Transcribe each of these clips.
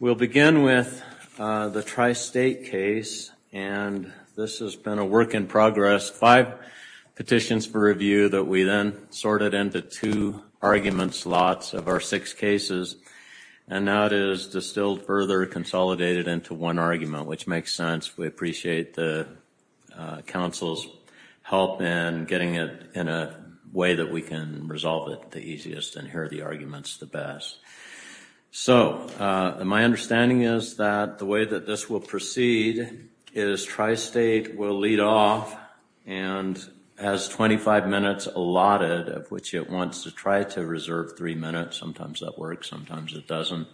We'll begin with the Tri-State case, and this has been a work in progress. Five petitions for review that we then sorted into two argument slots of our six cases. And now it is distilled further, consolidated into one argument, which makes sense. We appreciate the council's help in getting it in a way that we can resolve it the easiest and hear the arguments the best. So my understanding is that the way that this will proceed is Tri-State will lead off and has 25 minutes allotted, which it wants to try to reserve three minutes. Sometimes that works, sometimes it doesn't.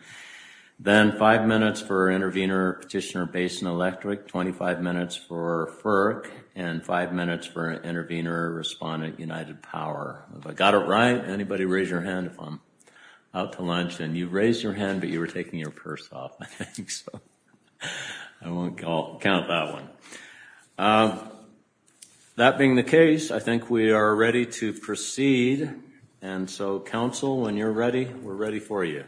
Then five minutes for intervener petitioner based in electric, 25 minutes for FERC, and five minutes for intervener respondent United Power. If I got it right, anybody raise your hand if I'm out to lunch, and you've raised your hand, but you were taking your purse off. I won't count that one. That being the case, I think we are ready to proceed. And so, council, when you're ready, we're ready for you.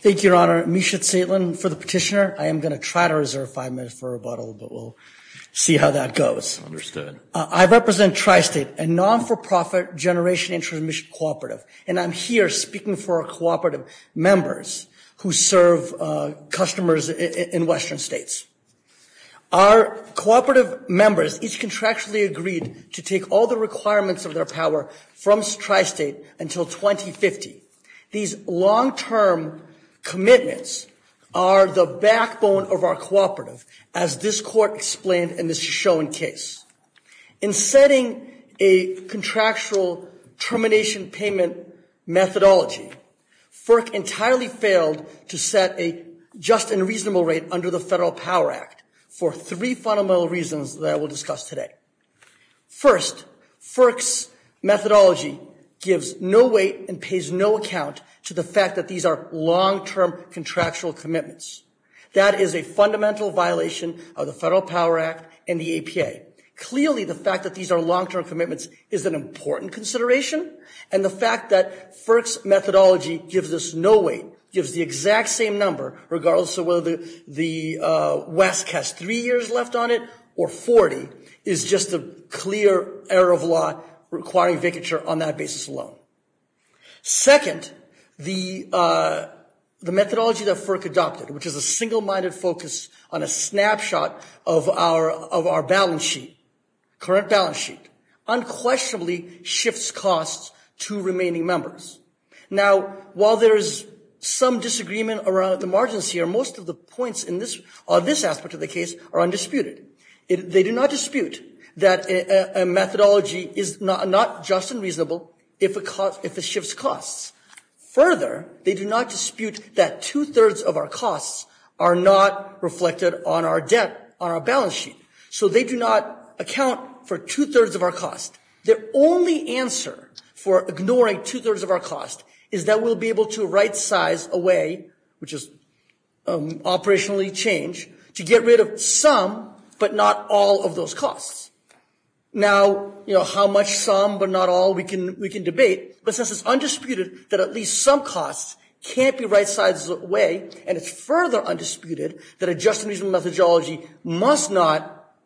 Thank you, Your Honor. Misha Zaitlin for the petitioner. I am going to try to reserve five minutes for rebuttal, but we'll see how that goes. Understood. I represent Tri-State, a non-for-profit generation intermission cooperative, and I'm here speaking for our cooperative members who serve customers in Western states. Our cooperative members each contractually agreed to take all the requirements of their power from Tri-State until 2050. These long-term commitments are the backbone of our cooperative, as this court explained in this shown case. In setting a contractual termination payment methodology, FERC entirely failed to set a just and reasonable rate under the Federal Power Act for three fundamental reasons that I will discuss today. First, FERC's methodology gives no weight and pays no account to the fact that these are long-term contractual commitments. That is a fundamental violation of the Federal Power Act and the APA. Clearly, the fact that these are long-term commitments is an important consideration, and the fact that FERC's methodology gives us no weight, gives the exact same number, regardless of whether the West has three years left on it or 40, is just a clear error of law requiring vicature on that basis alone. Second, the methodology that FERC adopted, which is a single-minded focus on a snapshot of our balance sheet, current balance sheet, unquestionably shifts costs to remaining members. Now, while there is some disagreement around the margins here, most of the points on this aspect of the case are undisputed. They do not dispute that a methodology is not just and reasonable if it shifts costs. Further, they do not dispute that 2 thirds of our costs are not reflected on our debt, on our balance sheet. So they do not account for 2 thirds of our costs. The only answer for ignoring 2 thirds of our costs is that we'll be able to right-size away, which is operationally change, to get rid of some but not all of those costs. Now, how much some but not all, we can debate. But since it's undisputed that at least some costs can't be right-sized away, and it's further undisputed that a just and reasonable methodology must not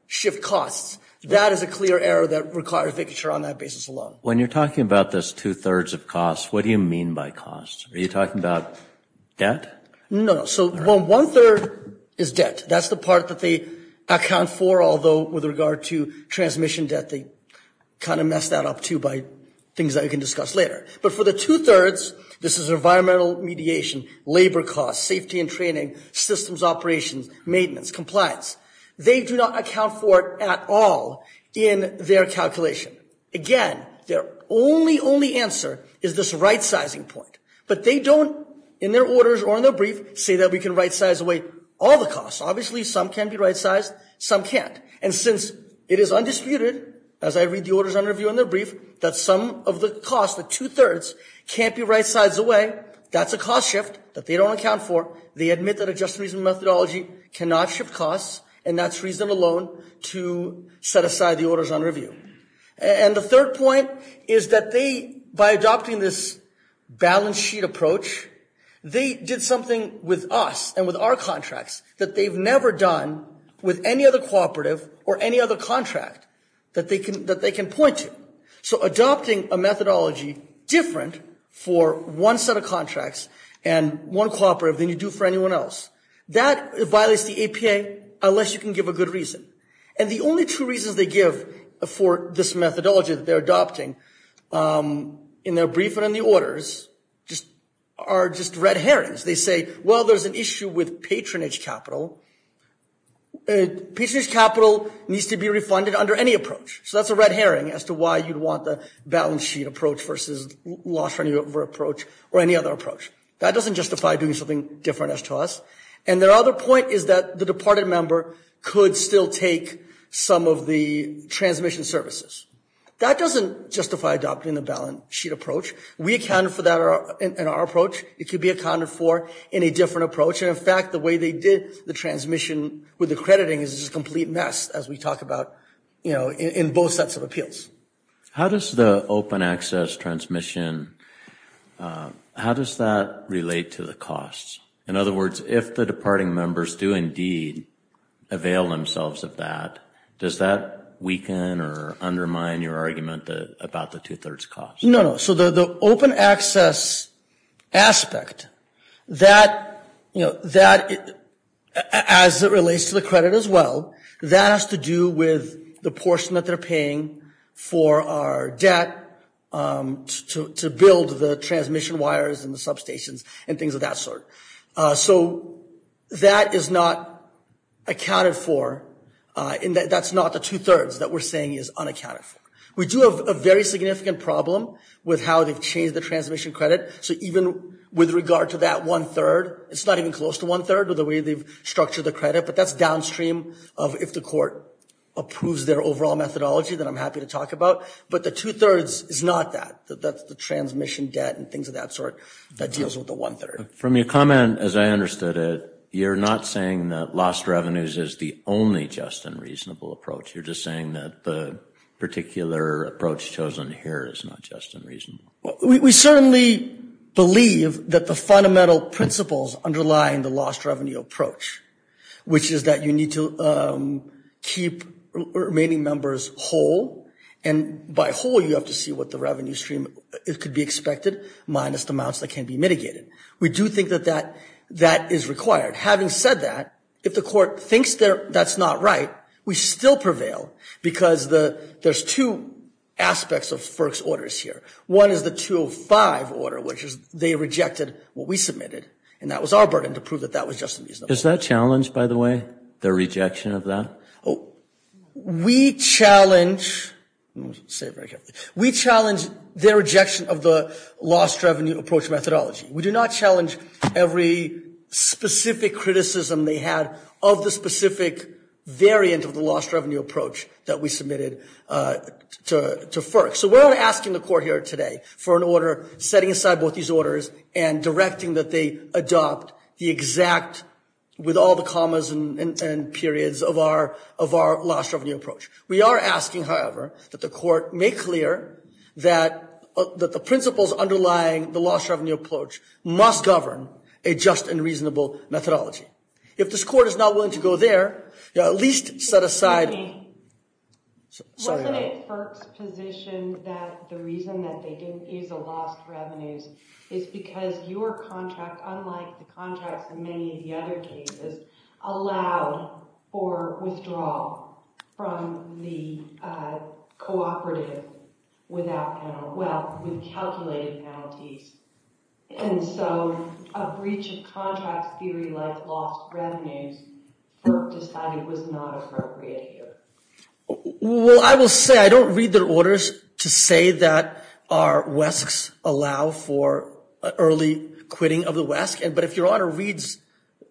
shift costs, that is a clear error that requires vicature on that basis alone. When you're talking about this 2 thirds of costs, what do you mean by costs? Are you talking about debt? No. So 1 third is debt. That's the part that they account for, although with regard to transmission debt, they kind of mess that up, too, by things that I can discuss later. But for the 2 thirds, this is environmental mediation, labor costs, safety and training, systems operation, maintenance, compliance. They do not account for it at all in their calculation. Again, their only, only answer is this right-sizing point. But they don't, in their orders or in their brief, say that we can right-size away all the costs. Obviously, some can be right-sized, some can't. And since it is undisputed, as I read the orders and review in their brief, that some of the costs, the 2 thirds, can't be right-sized away, that's a cost shift that they don't account for. They admit that a just and reasonable methodology cannot shift costs, and that's reason alone to set aside the orders and review. And the third point is that they, by adopting this balance sheet approach, they did something with us and with our contracts that they've never done with any other cooperative or any other contract that they can point to. So adopting a methodology different for one set of contracts and one cooperative than you do for anyone else, that violates the APA unless you can give a good reason. And the only true reason they give for this methodology that they're adopting in their brief and in the orders are just red herrings. They say, well, there's an issue with patronage capital. Patronage capital needs to be refunded under any approach. So that's a red herring as to why you'd want the balance sheet approach versus loss-revenue approach or any other approach. That doesn't justify doing something different as to us. And their other point is that the departed member could still take some of the transmission services. That doesn't justify adopting the balance sheet approach. We accounted for that in our approach. It could be accounted for in a different approach. And in fact, the way they did the transmission with the crediting is a complete mess as we talk about in both sets of appeals. How does the open access transmission, how does that relate to the costs? In other words, if the departing members do indeed avail themselves of that, does that weaken or undermine your argument about the two-thirds cost? No, no, so the open access aspect, as it relates to the credit as well, that has to do with the portion that they're paying for our debt to build the transmission wires and the substations and things of that sort. So that is not accounted for, and that's not the two-thirds that we're saying is unaccounted for. We do have a very significant problem with how they've changed the transmission credit. So even with regard to that one-third, it's not even close to one-third or the way they've structured the credit, but that's downstream of if the court approves their overall methodology that I'm happy to talk about. But the two-thirds is not that. That's the transmission debt and things of that sort that deals with the one-third. From your comment, as I understood it, you're not saying that lost revenues is the only just and reasonable approach. You're just saying that the particular approach chosen here is not just and reasonable. We certainly believe that the fundamental principles underlying the lost revenue approach, which is that you need to keep remaining members whole, and by whole, you have to see what the revenue stream is to be expected minus the amounts that can be mitigated. We do think that that is required. Having said that, if the court thinks that's not right, we still prevail because there's two aspects of FERC's orders here. One is the 205 order, which is they rejected what we submitted, and that was our burden to prove that that was just and reasonable. Is that challenged, by the way, the rejection of that? We challenge, let me say it very carefully. We challenge their rejection of the lost revenue approach methodology. We do not challenge every specific criticism they had of the specific variant of the lost revenue approach that we submitted to FERC. So we're asking the court here today for an order setting aside both these orders and directing that they adopt the exact, with all the commas and periods of our lost revenue approach. We are asking, however, that the court make clear that the principles underlying the lost revenue approach must govern a just and reasonable methodology. If this court is not willing to go there, you know, at least set aside. Excuse me. Sorry. Wasn't it FERC's position that the reason that they didn't see the lost revenue is because your contract, unlike the contracts in many of the other cases, allowed for withdrawal from the cooperative without, well, we calculated penalties, and so a breach of contract theory like lost revenue FERC decided was not appropriate here. Well, I will say, I don't read their orders to say that our WESCs allow for early quitting of the WESC, but if your honor reads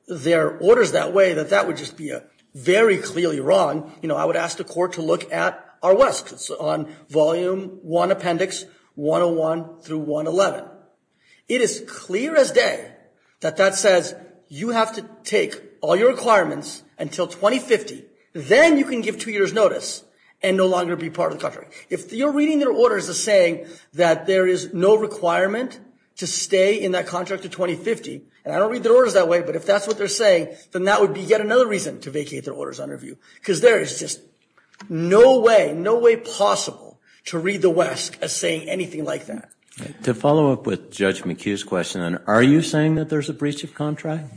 their orders that way, then that would just be very clearly wrong. You know, I would ask the court to look at our WESCs on volume one appendix 101 through 111. It is clear as day that that says you have to take all your requirements until 2050, then you can give two years notice and no longer be part of the contract. If you're reading their orders as saying that there is no requirement to stay in that contract to 2050, and I don't read their orders that way, but if that's what they're saying, then that would be yet another reason to vacate their orders under review, because there is just no way, no way possible to read the WESC as saying anything like that. To follow up with Judge McHugh's question, are you saying that there's a breach of contract?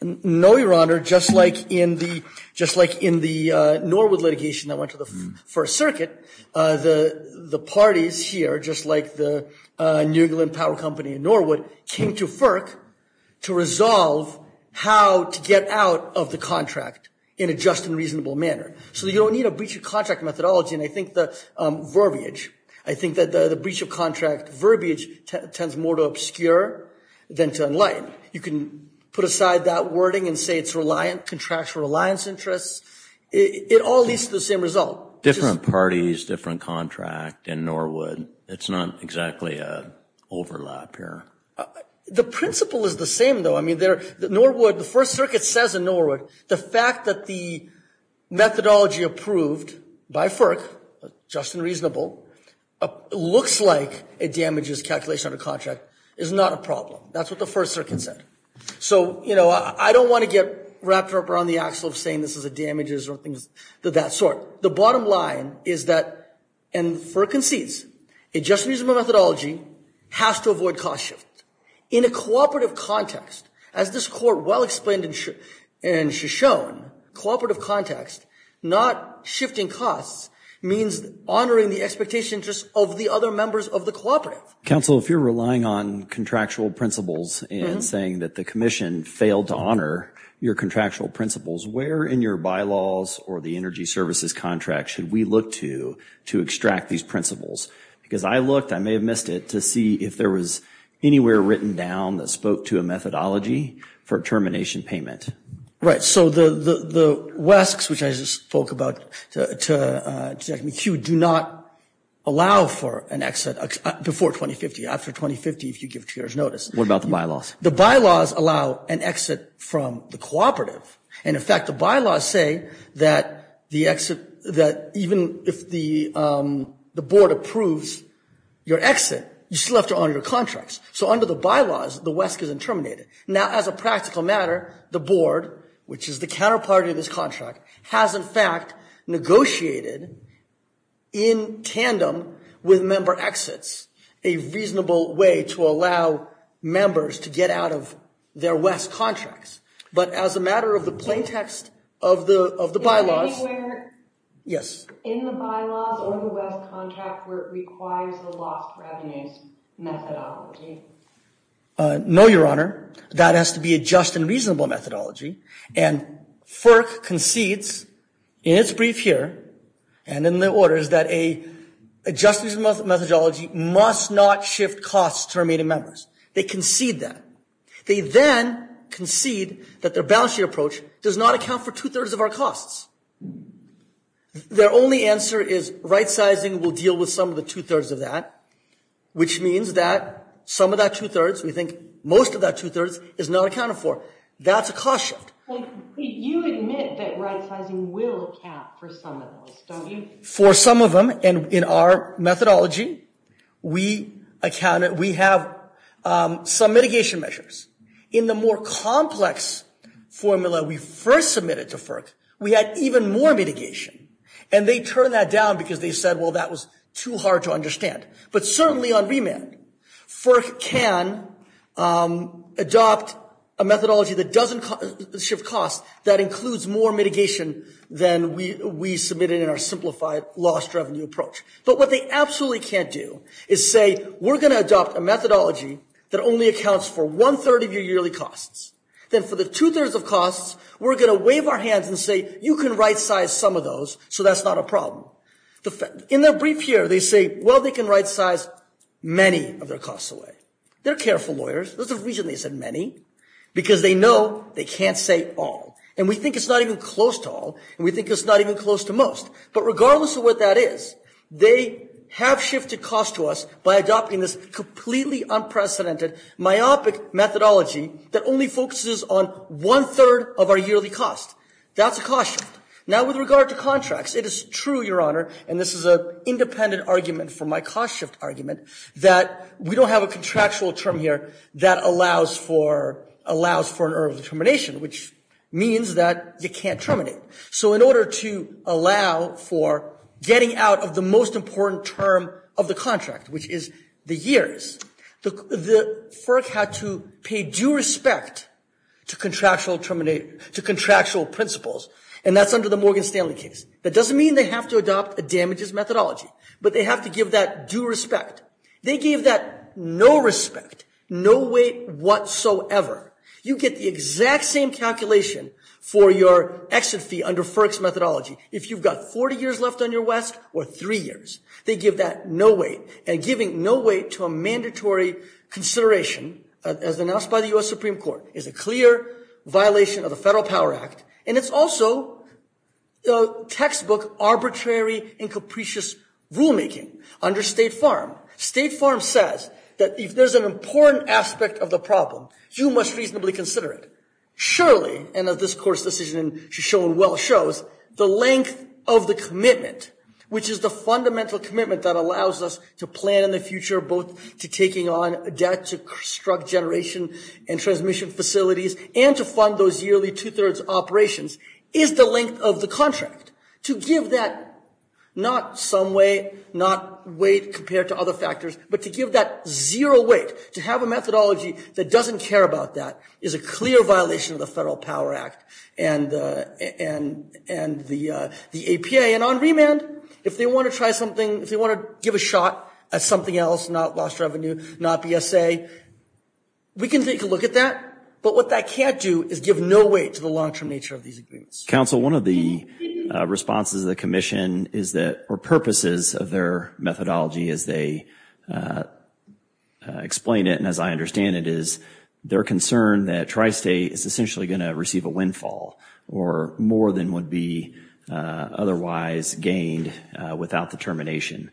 No, your honor, just like in the Norwood litigation that went to the First Circuit, the parties here, just like the New England Power Company in Norwood, came to FERC to resolve how to get out of the contract in a just and reasonable manner. So you don't need a breach of contract methodology, and I think the verbiage, I think that the breach of contract verbiage tends more to obscure than to enlighten. You can put aside that wording and say it's reliant, contracts for reliance interests. It all leads to the same result. Different parties, different contract in Norwood. It's not exactly an overlap here. The principle is the same, though. I mean, Norwood, the First Circuit says in Norwood the fact that the methodology approved by FERC, just and reasonable, looks like it damages calculation of a contract, is not a problem. That's what the First Circuit said. So I don't want to get wrapped up around the axel of saying this is a damages or things of that sort. The bottom line is that, and FERC concedes, a just and reasonable methodology has to avoid cost shift. In a cooperative context, as this court well explained and has shown, cooperative context, not shifting costs, means honoring the expectations of the other members of the cooperative. Counsel, if you're relying on contractual principles and saying that the commission failed to honor your contractual principles, where in your bylaws or the energy services contract should we look to to extract these principles? Because I looked, I may have missed it, to see if there was anywhere written down that spoke to a methodology for termination payment. Right, so the WESCs, which I just spoke about, excuse me, do not allow for an exit before 2050. After 2050, if you give two years notice. What about the bylaws? The bylaws allow an exit from the cooperative. And in fact, the bylaws say that the exit, that even if the board approves your exit, you still have to honor your contracts. So under the bylaws, the WESC isn't terminated. Now, as a practical matter, the board, which is the counterpart of this contract, has in fact negotiated, in tandem with member exits, a reasonable way to allow members to get out of their WESC contracts. But as a matter of the plain text of the bylaws. Is there anywhere in the bylaws or the WESC contract where it requires the loss revenue methodology? No, Your Honor. That has to be a just and reasonable methodology. And FERC concedes, in its brief here, and in the orders, that a just methodology must not shift costs to remain in members. They concede that. They then concede that their balance sheet approach does not account for 2 3rds of our costs. Their only answer is right-sizing will deal with some of the 2 3rds of that, which means that some of that 2 3rds, we think most of that 2 3rds, is not accounted for. That's a cost sum. You admit that right-sizing will account for some of those. For some of them, and in our methodology, we have some mitigation measures. In the more complex formula we first submitted to FERC, we had even more mitigation. And they turned that down because they said, well, that was too hard to understand. But certainly on remand, FERC can adopt a methodology that doesn't shift costs that includes more mitigation than we submitted in our simplified loss-driven approach. But what they absolutely can't do is say, we're gonna adopt a methodology that only accounts for 1 3rd of your yearly costs. Then for the 2 3rds of costs, we're gonna wave our hands and say, you can right-size some of those, so that's not a problem. In their brief here, they say, well, they can right-size many of our costs away. They're careful lawyers, that's the reason they said many, because they know they can't say all. And we think it's not even close to all, and we think it's not even close to most. But regardless of what that is, they have shifted costs to us by adopting this completely unprecedented, myopic methodology that only focuses on 1 3rd of our yearly costs. That's a cost shift. Now with regard to contracts, it is true, Your Honor, and this is an independent argument from my cost shift argument, that we don't have a contractual term here that allows for an early termination, which means that you can't terminate. So in order to allow for getting out of the most important term of the contract, which is the years, the FERC had to pay due respect to contractual principles, and that's under the Morgan Stanley case. That doesn't mean they have to adopt a damages methodology, but they have to give that due respect. They gave that no respect, no weight whatsoever. You get the exact same calculation for your exodus fee under FERC's methodology. If you've got 40 years left on your West or three years, they give that no weight, and giving no weight to a mandatory consideration, as announced by the U.S. Supreme Court, is a clear violation of the Federal Power Act, and it's also textbook arbitrary and capricious rulemaking under State Farm. State Farm says that if there's an important aspect of the problem, you must reasonably consider it. Surely, and as this court's decision should show and well shows, the length of the commitment, which is the fundamental commitment that allows us to plan the future both to taking on debt, to construct generation and transmission facilities, and to fund those yearly two-thirds operations, is the length of the contract. To give that not some way, not weight compared to other factors, but to give that zero weight, to have a methodology that doesn't care about that is a clear violation of the Federal Power Act and the APA, and on remand, if they want to try something, if they want to give a shot at something else, not lost revenue, not BSA, we can take a look at that, but what that can't do is give no weight to the long-term nature of these agreements. Council, one of the responses of the commission is that, or purposes of their methodology as they explain it, and as I understand it, is their concern that Tri-State is essentially gonna receive a windfall, or more than would be otherwise gained without the termination,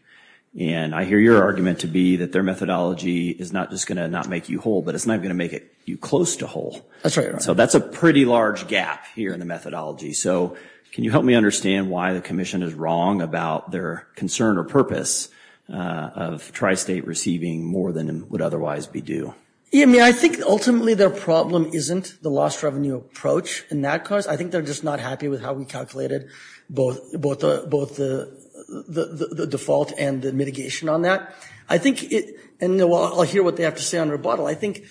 and I hear your argument to be that their methodology is not just gonna not make you whole but it's not gonna make you close to whole. That's right. So that's a pretty large gap here in the methodology. So can you help me understand why the commission is wrong about their concern or purpose of Tri-State receiving more than would otherwise be due? Yeah, I mean, I think ultimately their problem isn't the lost revenue approach in that class. I think they're just not happy with how we calculated both the default and the mitigation on that. I think, and I'll hear what they have to say on rebuttal, I think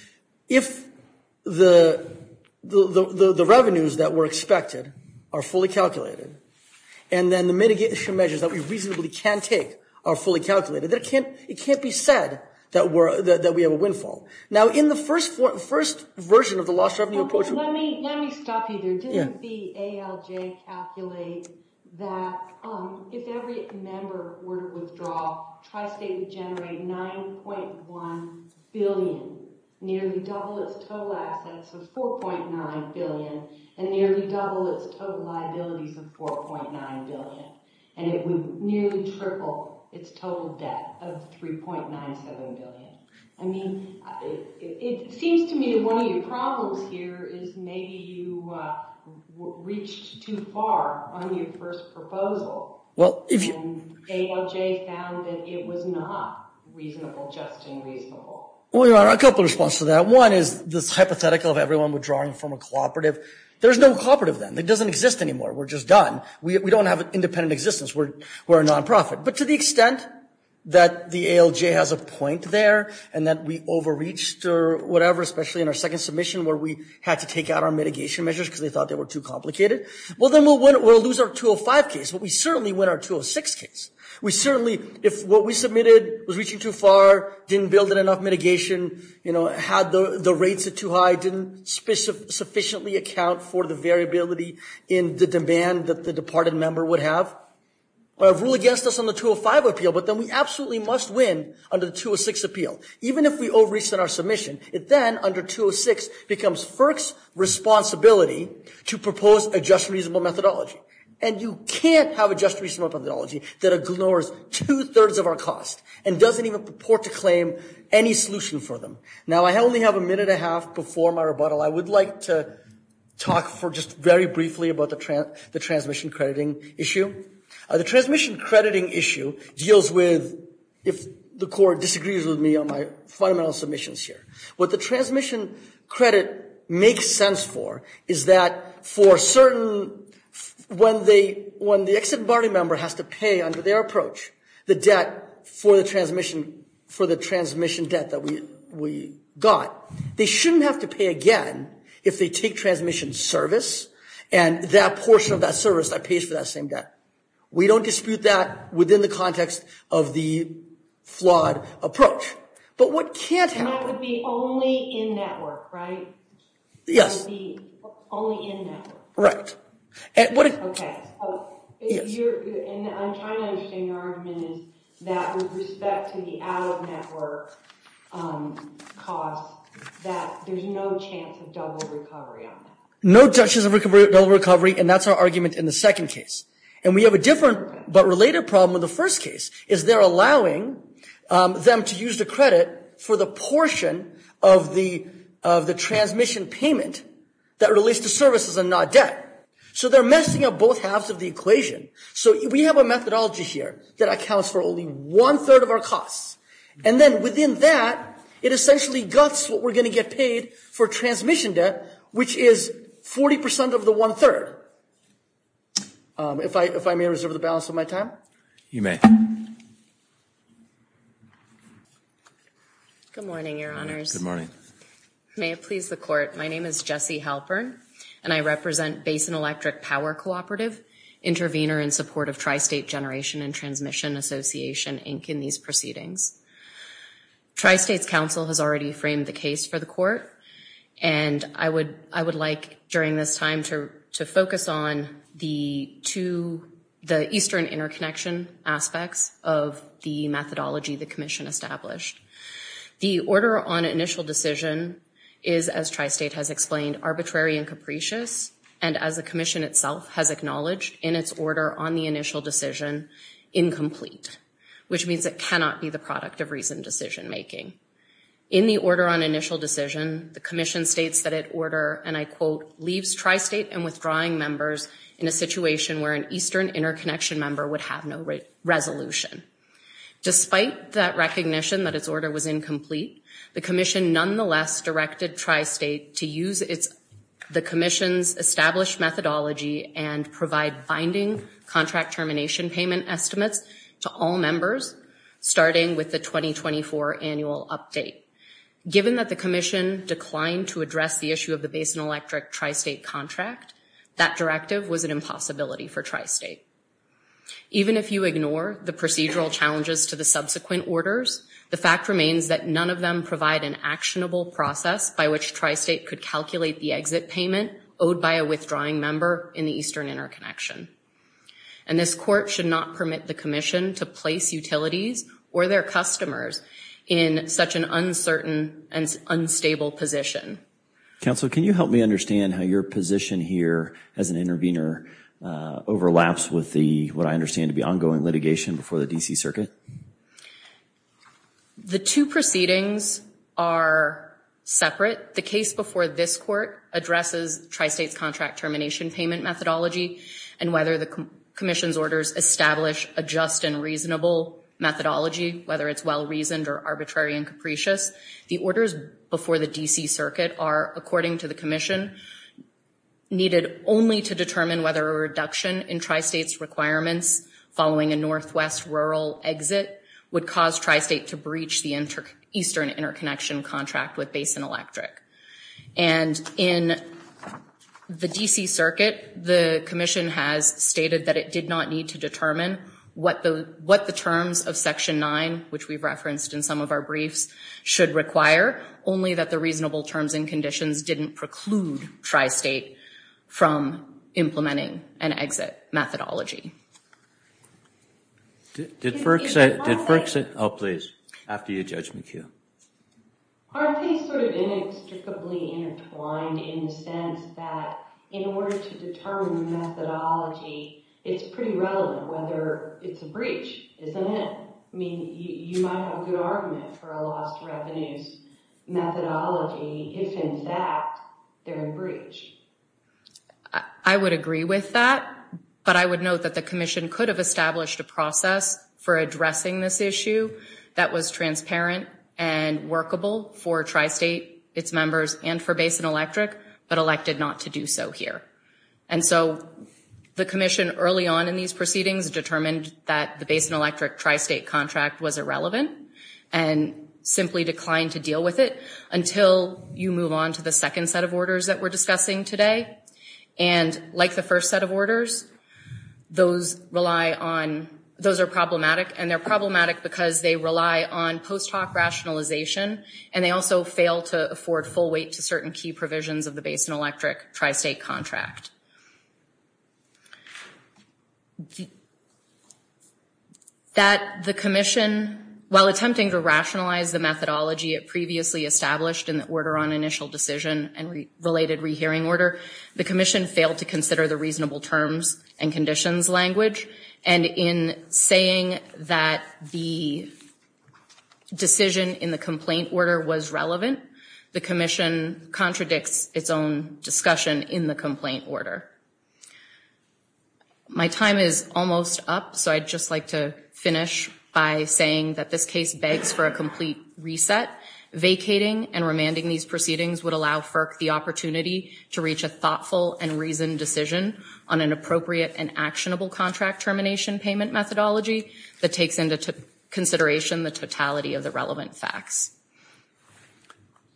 if the revenues that were expected are fully calculated, and then the mitigation measures that we reasonably can take are fully calculated, it can't be said that we have a windfall. Now in the first version of the lost revenue approach. Let me stop you there. Didn't the ALJ calculate that if every member were to withdraw, Tri-State would generate 9.1 billion nearly double its total assets of 4.9 billion and nearly double its total liabilities of 4.9 billion. And it would nearly triple its total debt of 3.97 billion. I mean, it seems to me one of your problems here is maybe you reached too far on your first proposal. Well, if you- And ALJ found that it was not reasonable judging reasonable. Well, you know, a couple of responses to that. One is just hypothetical of everyone withdrawing from a cooperative. There's no cooperative then. It doesn't exist anymore. We're just done. We don't have an independent existence. We're a nonprofit. But to the extent that the ALJ has a point there, and that we overreached or whatever, especially in our second submission where we had to take out our mitigation measures because they thought they were too complicated. Well, then we'll lose our 205 case, but we certainly win our 206 case. We certainly, if what we submitted was reaching too far, didn't build in enough mitigation, had the rates are too high, didn't sufficiently account for the variability in the demand that the departed member would have, or rule against us on the 205 appeal, but then we absolutely must win under the 206 appeal. Even if we overreached in our submission, it then under 206 becomes FERC's responsibility to propose a just reasonable methodology. And you can't have a just reasonable methodology that ignores two-thirds of our costs and doesn't even purport to claim any solution for them. Now, I only have a minute and a half before my rebuttal. I would like to talk for just very briefly about the transmission crediting issue. The transmission crediting issue deals with, if the court disagrees with me on my final submissions here, what the transmission credit makes sense for is that for certain, when the ex-embargo member has to pay under their approach the debt for the transmission debt that we got, they shouldn't have to pay again if they take transmission service and that portion of that service that pays for that same debt. We don't dispute that within the context of the flawed approach. But what can't happen- And that would be only in-network, right? Yes. It would be only in-network. Right. And what it- Okay. If you're- And I'm trying to understand your argument is that with respect to the out-of-network cost that there's no chance of double recovery on that. No chances of double recovery, and that's our argument in the second case. And we have a different, but related problem in the first case is they're allowing them to use the credit for the portion of the transmission payment that relates to services and not debt. So they're messing up both halves of the equation. So we have a methodology here that accounts for only one-third of our costs. And then within that, it essentially guffs what we're gonna get paid for transmission debt, which is 40% of the one-third. If I may reserve the balance of my time. You may. Good morning, your honors. Good morning. May it please the court. My name is Jessie Halpern, and I represent Basin Electric Power Cooperative, intervener in support of Tri-State Generation and Transmission Association, Inc., in these proceedings. Tri-State's counsel has already framed the case for the court. And I would like, during this time, to focus on the two, the eastern interconnection aspects of the methodology the commission established. The order on initial decision is, as Tri-State has explained, arbitrary and capricious, and as the commission itself has acknowledged in its order on the initial decision, incomplete, which means it cannot be the product of reasoned decision-making. In the order on initial decision, the commission states that it order, and I quote, leaves Tri-State and withdrawing members in a situation where an eastern interconnection member would have no resolution. Despite that recognition that its order was incomplete, the commission nonetheless directed Tri-State to use the commission's established methodology and provide binding contract termination payment estimates to all members, starting with the 2024 annual update. Given that the commission declined to address the issue of the Basin Electric Tri-State contract, that directive was an impossibility for Tri-State. Even if you ignore the procedural challenges to the subsequent orders, the fact remains that none of them provide an actionable process by which Tri-State could calculate the exit payment owed by a withdrawing member in the eastern interconnection. And this court should not permit the commission to place utilities or their customers in such an uncertain and unstable position. Council, can you help me understand how your position here as an intervener overlaps with what I understand to be ongoing litigation before the D.C. Circuit? The two proceedings are separate. The case before this court addresses Tri-State's contract termination payment methodology and whether the commission's orders establish a just and reasonable methodology, whether it's well-reasoned or arbitrary and capricious. The orders before the D.C. Circuit are, according to the commission, needed only to determine whether a reduction in Tri-State's requirements following a Northwest rural exit payment would cause Tri-State to breach the eastern interconnection contract with Basin Electric. And in the D.C. Circuit, the commission has stated that it did not need to determine what the terms of Section 9, which we've referenced in some of our briefs, should require, only that the reasonable terms and conditions didn't preclude Tri-State from implementing an exit methodology. Did Burke say... Oh, please, after you, Judge McHugh. Our case would have been inextricably intertwined in the sense that in order to determine the methodology, it's pretty relevant whether it's a breach, isn't it? I mean, you might have a good argument for a lost revenues methodology if, in fact, they're a breach. I would agree with that, but I would note that the commission's orders that the commission could have established a process for addressing this issue that was transparent and workable for Tri-State, its members, and for Basin Electric, but elected not to do so here. And so the commission early on in these proceedings determined that the Basin Electric Tri-State contract was irrelevant and simply declined to deal with it until you move on to the second set of orders that we're discussing today. And like the first set of orders, those rely on, those are problematic, and they're problematic because they rely on post hoc rationalization, and they also fail to afford full weight to certain key provisions of the Basin Electric Tri-State contract. That the commission, while attempting to rationalize the methodology it previously established in order on initial decision and related rehearing order, the commission failed to consider the reasonable terms and conditions language. And in saying that the decision in the complaint order was relevant, the commission contradicts its own discussion in the complaint order. My time is almost up, so I'd just like to finish by saying that this case begs for a complete reset. Vacating and remanding these proceedings would allow FERC the opportunity to reach a thoughtful and reasoned decision on an appropriate and actionable contract termination payment methodology that takes into consideration the totality of the relevant facts.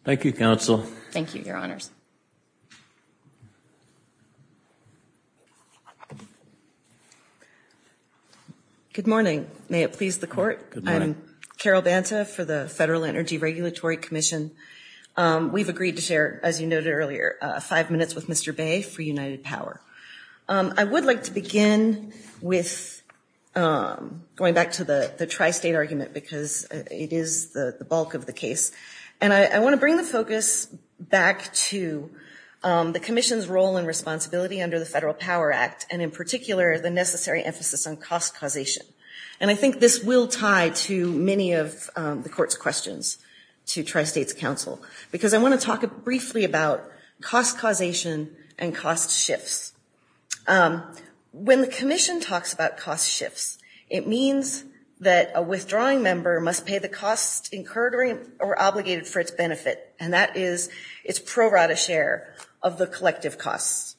Thank you, counsel. Thank you, your honors. Good morning. May it please the court. I'm Carol Banta for the Federal Energy Regulatory Commission. We've agreed to share, as you noted earlier, five minutes with Mr. Bay for United Power. I would like to begin with going back to the tri-state argument because it is the bulk of the case. And I wanna bring the focus back to the commission's role and responsibility under the Federal Power Act, and in particular, the necessary emphasis on cost causation. And I think this will tie to many of the court's questions to tri-state's counsel. Because I wanna talk briefly about cost causation and cost shifts. When the commission talks about cost shifts, it means that a withdrawing member must pay the cost incurred or obligated for its benefit. And that is its pro rata share of the collective costs.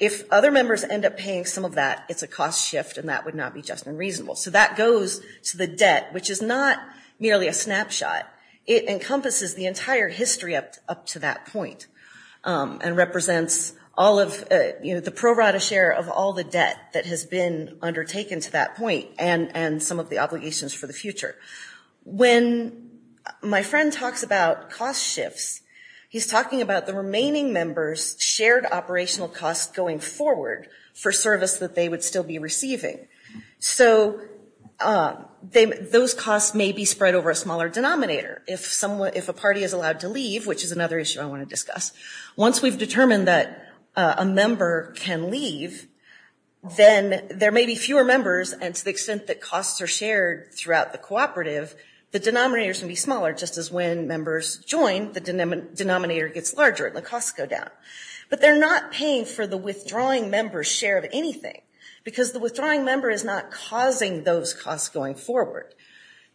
If other members end up paying some of that, it's a cost shift and that would not be just and reasonable. So that goes to the debt, which is not merely a snapshot. It encompasses the entire history up to that point. And represents the pro rata share of all the debt that has been undertaken to that point and some of the obligations for the future. When my friend talks about cost shifts, he's talking about the remaining members' shared operational costs going forward for service that they would still be receiving. So those costs may be spread over a smaller denominator. If a party is allowed to leave, which is another issue I wanna discuss. Once we've determined that a member can leave, then there may be fewer members and to the extent that costs are shared throughout the cooperative, the denominators can be smaller, just as when members join, the denominator gets larger and the costs go down. But they're not paying for the withdrawing member's share of anything because the withdrawing member is not causing those costs going forward.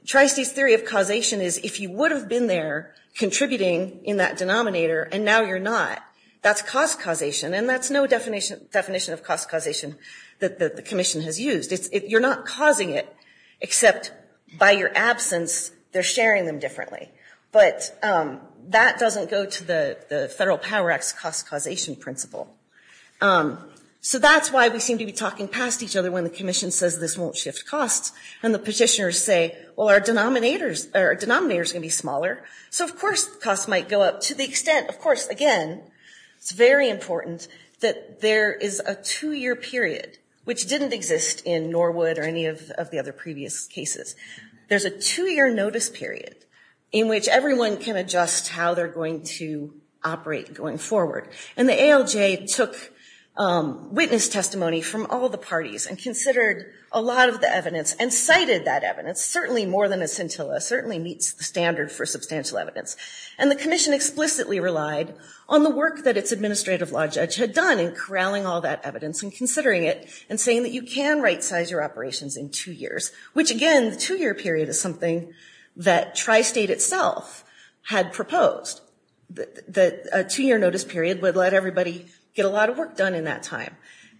Tricy's theory of causation is if you would've been there contributing in that denominator and now you're not, that's cost causation and that's no definition of cost causation that the commission has used. You're not causing it except by your absence, they're sharing them differently. But that doesn't go to the Federal Power Act's cost causation principle. So that's why we seem to be talking past each other when the commission says this won't shift costs and the petitioners say, well our denominator's gonna be smaller. So of course costs might go up to the extent, of course again, it's very important that there is a two year period which didn't exist in Norwood or any of the other previous cases. There's a two year notice period in which everyone can adjust how they're going to operate going forward. And the ALJ took witness testimony from all the parties and considered a lot of the evidence and cited that evidence, certainly more than a scintilla, certainly meets standards for substantial evidence. And the commission explicitly relied on the work that its administrative law judge had done in corralling all that evidence and considering it and saying that you can right size your operations in two years. Which again, two year period is something that Tri-State itself had proposed. That a two year notice period would let everybody get a lot of work done in that time.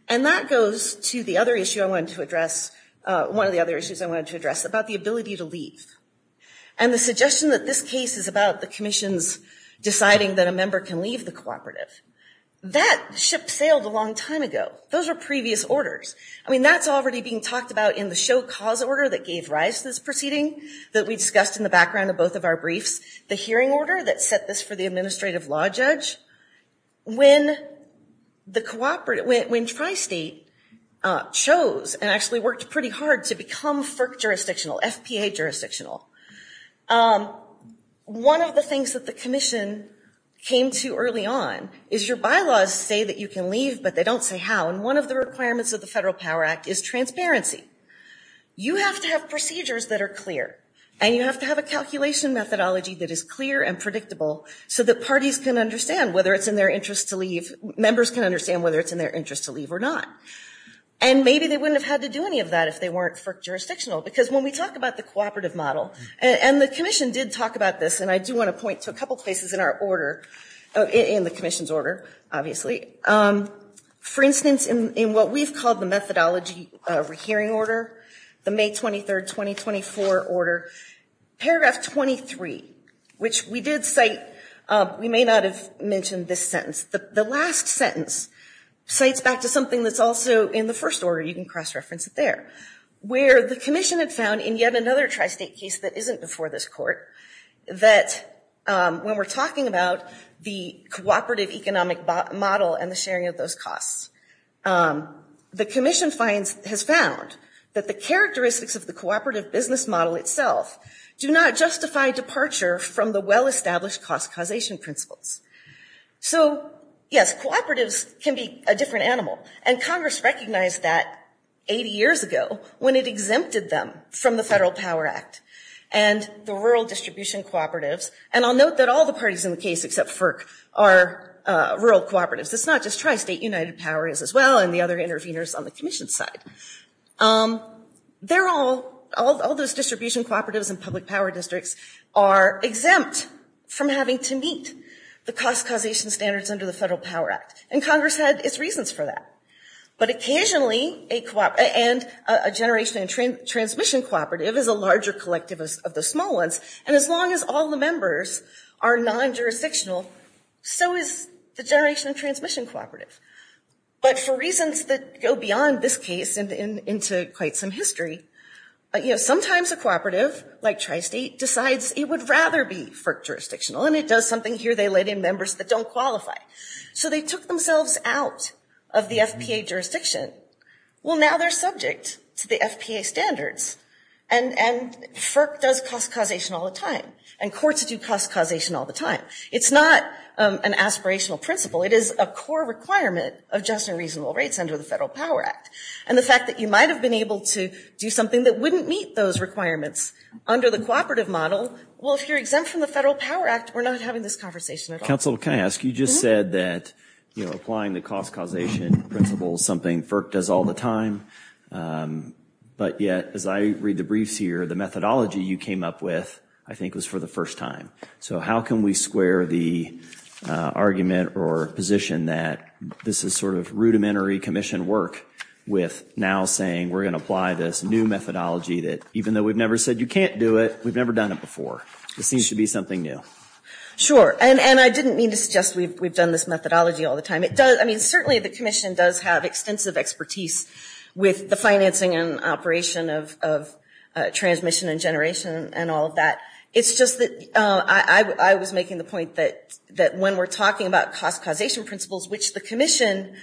And that goes to the other issue I wanted to address, one of the other issues I wanted to address about the ability to leave. And the suggestion that this case is about the commission's deciding that a member can leave the cooperative. That ship sailed a long time ago. Those are previous orders. I mean that's already being talked about in the show cause order that gave rise to this proceeding that we discussed in the background of both of our briefs. The hearing order that set this for the administrative law judge. When Tri-State chose and actually worked pretty hard to become FERC jurisdictional, FPA jurisdictional. One of the things that the commission came to early on is your bylaws say that you can leave but they don't say how. And one of the requirements of the Federal Power Act is transparency. You have to have procedures that are clear. And you have to have a calculation methodology that is clear and predictable so that parties can understand whether it's in their interest to leave, members can understand whether it's in their interest to leave or not. And maybe they wouldn't have had to do any of that if they weren't for jurisdictional. Because when we talked about the cooperative model and the commission did talk about this and I do want to point to a couple places in our order, in the commission's order, obviously. For instance, in what we've called the methodology of a hearing order, the May 23rd, 2024 order, paragraph 23, which we did cite, we may not have mentioned this sentence. But the last sentence cites back to something that's also in the first order, you can cross-reference it there, where the commission has found in yet another tri-state case that isn't before this court, that when we're talking about the cooperative economic model and the sharing of those costs, the commission has found that the characteristics of the cooperative business model itself do not justify departure from the well-established cost causation principles. So yes, cooperatives can be a different animal. And Congress recognized that 80 years ago when it exempted them from the Federal Power Act and the Rural Distribution Cooperative. And I'll note that all the parties in the case, except FERC, are rural cooperatives. It's not just tri-state, United Power is as well, and the other interveners on the commission's side. They're all, all those distribution cooperatives and public power districts are exempt from having to meet the cost causation standards under the Federal Power Act. And Congress had its reasons for that. But occasionally, and a generation transmission cooperative is a larger collective of the small ones. And as long as all the members are non-jurisdictional, so is the generation transmission cooperative. But for reasons that go beyond this case and into quite some history, sometimes a cooperative, like tri-state, decides it would rather be FERC jurisdictional. And it does something here, they let in members that don't qualify. So they took themselves out of the SPA jurisdiction. Well, now they're subject to the SPA standards. And FERC does cost causation all the time. And courts do cost causation all the time. It's not an aspirational principle. It is a core requirement of just and reasonable rates under the Federal Power Act. And the fact that you might have been able to do something that wouldn't meet those requirements under the cooperative model, well, if you're exempt from the Federal Power Act, we're not having this conversation at all. Councilor, can I ask, you just said that, you know, applying the cost causation principle is something FERC does all the time. But yet, as I read the briefs here, the methodology you came up with, I think was for the first time. So how can we square the argument or position that this is sort of rudimentary commission work with now saying we're gonna apply this new methodology that even though we've never said you can't do it, we've never done it before. It needs to be something new. Sure, and I didn't mean to suggest we've done this methodology all the time. It does, I mean, certainly the commission does have extensive expertise with the financing and operation of transmission and generation and all that. It's just that I was making the point that when we're talking about cost causation principles, which the commission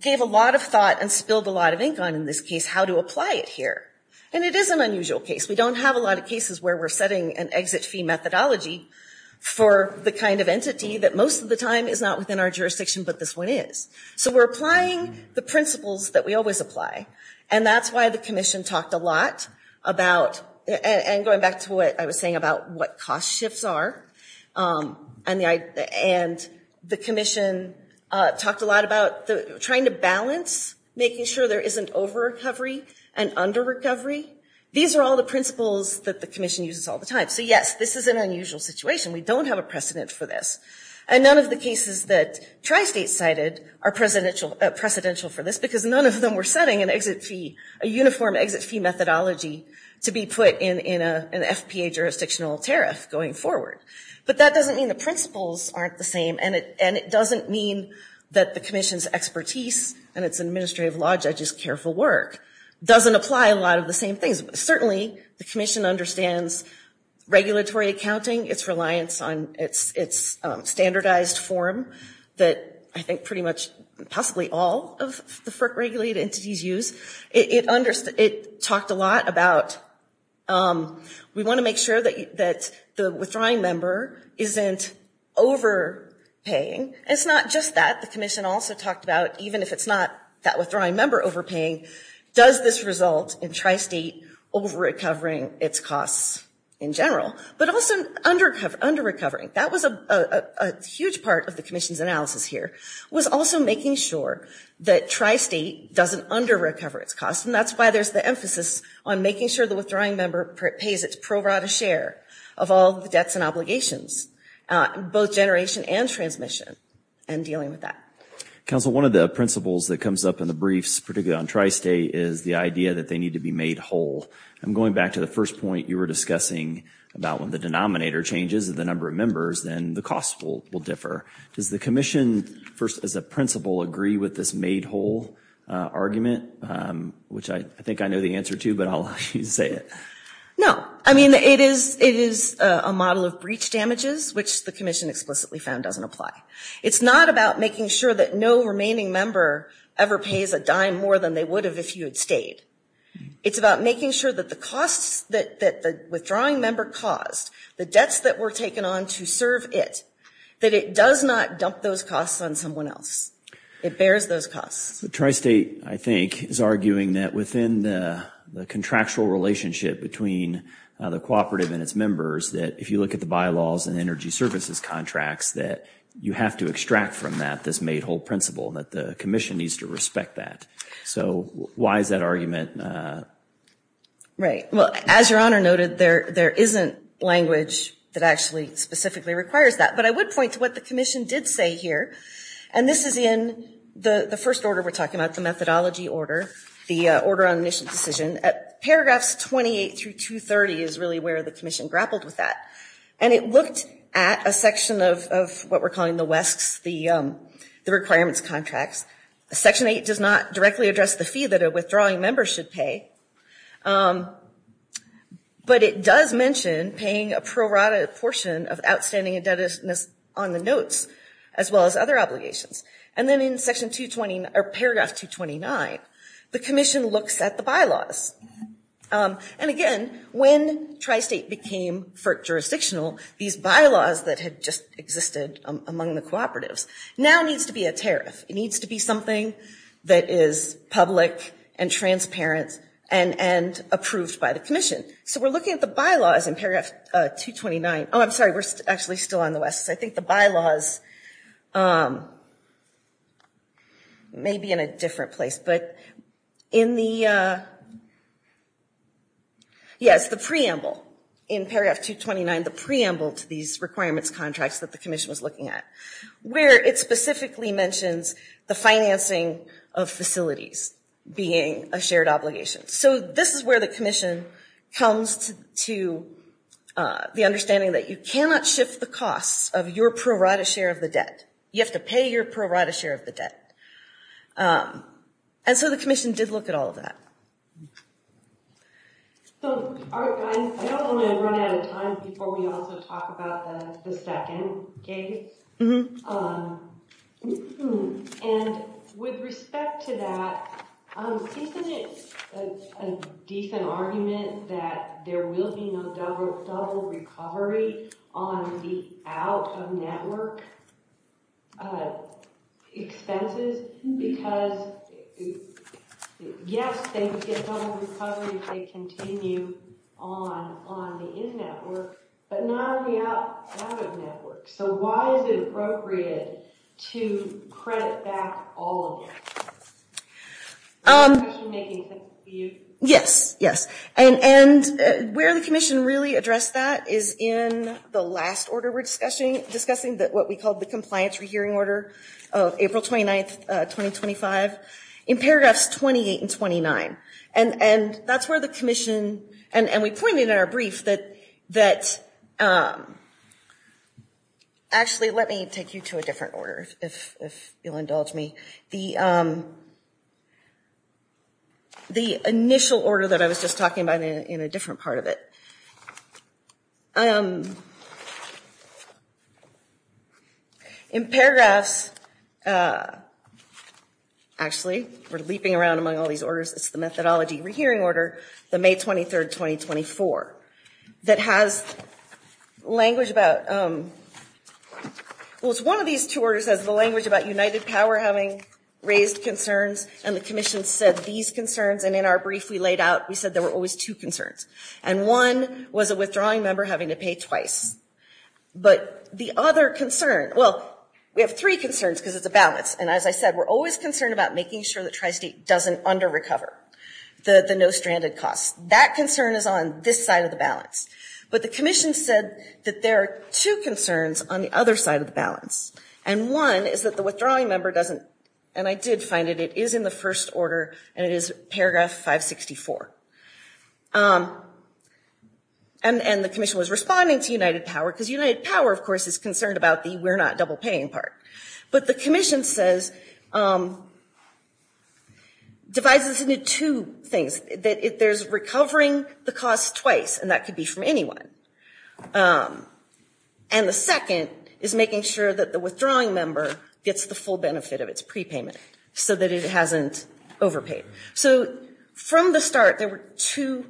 gave a lot of thought and spilled a lot of ink on in this case, how to apply it here. And it is an unusual case. We don't have a lot of cases where we're setting an exit fee methodology for the kind of entity that most of the time is not within our jurisdiction, but this one is. So we're applying the principles that we always apply. And that's why the commission talked a lot about, and going back to what I was saying about what cost shifts are, and the commission talked a lot about trying to balance, making sure there isn't over-recovery and under-recovery. These are all the principles that the commission uses all the time. So yes, this is an unusual situation. We don't have a precedent for this. And none of the cases that Tri-State cited are precedential for this because none of them were setting an exit fee, a uniform exit fee methodology to be put in an SPA jurisdictional terrace going forward. But that doesn't mean the principles aren't the same and it doesn't mean that the commission's expertise and its administrative law judge's careful work doesn't apply a lot of the same things. Certainly the commission understands regulatory accounting, its reliance on its standardized form that I think pretty much possibly all of the FERC regulated entities use. It talked a lot about, we wanna make sure that the withdrawing member isn't overpaying. It's not just that. The commission also talked about even if it's not that withdrawing member overpaying, does this result in Tri-State over-recovering its costs in general, but also under-recovering. That was a huge part of the commission's analysis here was also making sure that Tri-State doesn't under-recover its costs. And that's why there's the emphasis on making sure the withdrawing member pays its pro rata share of all the debts and obligations, both generation and transmission, and dealing with that. Council, one of the principles that comes up in the briefs, particularly on Tri-State, is the idea that they need to be made whole. I'm going back to the first point you were discussing about when the denominator changes and the number of members, then the costs will differ. Does the commission, first as a principle, agree with this made whole argument? Which I think I know the answer to, but I'll let you say it. No, I mean, it is a model of breach damages, which the commission explicitly found doesn't apply. It's not about making sure that no remaining member ever pays a dime more than they would have if you had stayed. It's about making sure that the costs that the withdrawing member caused, the debts that were taken on to serve it, that it does not dump those costs on someone else. It bears those costs. So Tri-State, I think, is arguing that within the contractual relationship between the cooperative and its members, that if you look at the bylaws and energy services contracts, that you have to extract from that this made whole principle that the commission needs to respect that. So why is that argument? Right, well, as Your Honor noted, there isn't language that actually specifically requires that but I would point to what the commission did say here. And this is in the first order we're talking about, the methodology order, the order on admission decision. Paragraphs 28 through 230 is really where the commission grappled with that. And it looked at a section of what we're calling the WESCs, the requirements contracts. Section eight does not directly address the fee that a withdrawing member should pay. But it does mention paying a prorated portion of outstanding indebtedness on the notes as well as other obligations. And then in paragraph 229, the commission looks at the bylaws. And again, when Tri-State became jurisdictional, these bylaws that had just existed among the cooperatives now needs to be a tariff. It needs to be something that is public and transparent and approved by the commission. So we're looking at the bylaws in paragraph 229. Oh, I'm sorry, we're actually still on the WESCs. I think the bylaws may be in a different place, but in the, yeah, it's the preamble. In paragraph 229, the preamble to these requirements contracts that the commission was looking at, where it specifically mentions the financing of facilities being a shared obligation. So this is where the commission comes to the understanding that you cannot shift the cost of your prorated share of the debt. You have to pay your prorated share of the debt. And so the commission did look at all of that. So, I know we're running out of time before we also talk about the second case. And with respect to that, isn't it a decent argument that there will be some recovery on the out-of-network expenses? Because, yes, they can get some recovery if they continue on the in-network, but not on the out-of-network. So why is it appropriate to credit back all of that? Yes, yes, and where the commission really addressed that is in the last order we're discussing, that what we called the Compliance Rehearing Order of April 29th, 2025, in paragraphs 28 and 29. And that's where the commission, and we pointed in our brief that, that, actually, let me take you to a different order if you'll indulge me. The initial order that I was just talking about in a different part of it. In paragraphs, actually, we're leaping around among all these orders, it's the Methodology Rehearing Order, the May 23rd, 2024, that has language about, well, it's one of these two orders because the language about United Power having raised concerns, and the commission said these concerns, and in our brief we laid out, we said there were always two concerns. And one was a withdrawing member having to pay twice. But the other concern, well, we have three concerns because of the balance, and as I said, we're always concerned about making sure that Tri-State doesn't under-recover the no-stranded costs. That concern is on this side of the balance. But the commission said that there are two concerns on the other side of the balance. And one is that the withdrawing member doesn't, and I did find it, it is in the first order, and it is paragraph 564. And the commission was responding to United Power because United Power, of course, is concerned about the we're not double-paying part. But the commission says, divides this into two things, that there's recovering the cost twice, and that could be from anyone. And the second is making sure that the withdrawing member gets the full benefit of its prepayment so that it hasn't overpaid. So from the start, there were two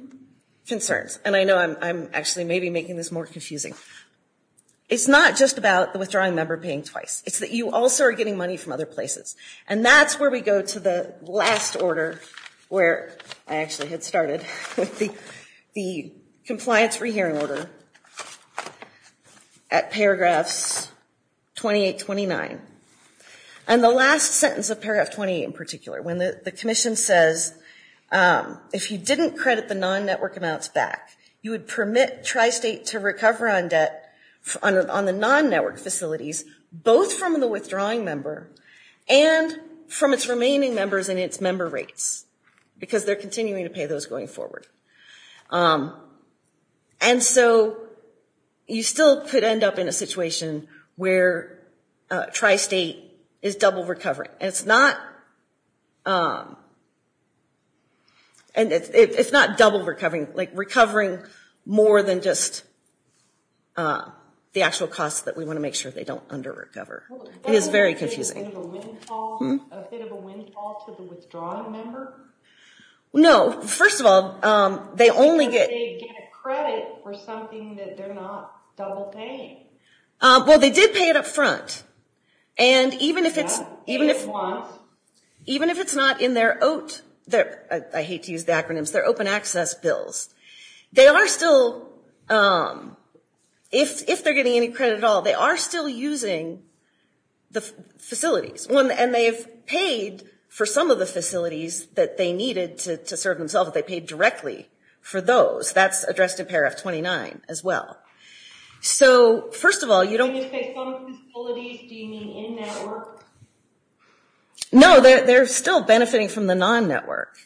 concerns. And I know I'm actually maybe making this more confusing. It's not just about the withdrawing member paying twice. It's that you also are getting money from other places. And that's where we go to the last order where I actually had started with the compliance for hearing order. At paragraph 28-29. And the last sentence of paragraph 28 in particular, when the commission says, if you didn't credit the non-network amounts back, you would permit Tri-State to recover on debt on the non-network facilities, both from the withdrawing member and from its remaining members and its member rates. Because they're continuing to pay those going forward. And so you still could end up in a situation where Tri-State is double recovering. It's not, and it's not double recovering, like recovering more than just the actual cost that we want to make sure they don't under-recover. It is very confusing. A bit of a windfall to the withdrawing member? No, first of all, they only get. Do they get credit for something that they're not double paying? Well, they did pay it up front. And even if it's not, even if it's not in their OAT, I hate to use acronyms, their open access bills, they are still, if they're getting any credit at all, they are still using the facilities. And they've paid for some of the facilities that they needed to serve themselves, but they paid directly for those. That's addressed in paragraph 29 as well. So first of all, you don't. You just say some facilities, do you mean in-network? No, they're still benefiting from the non-network,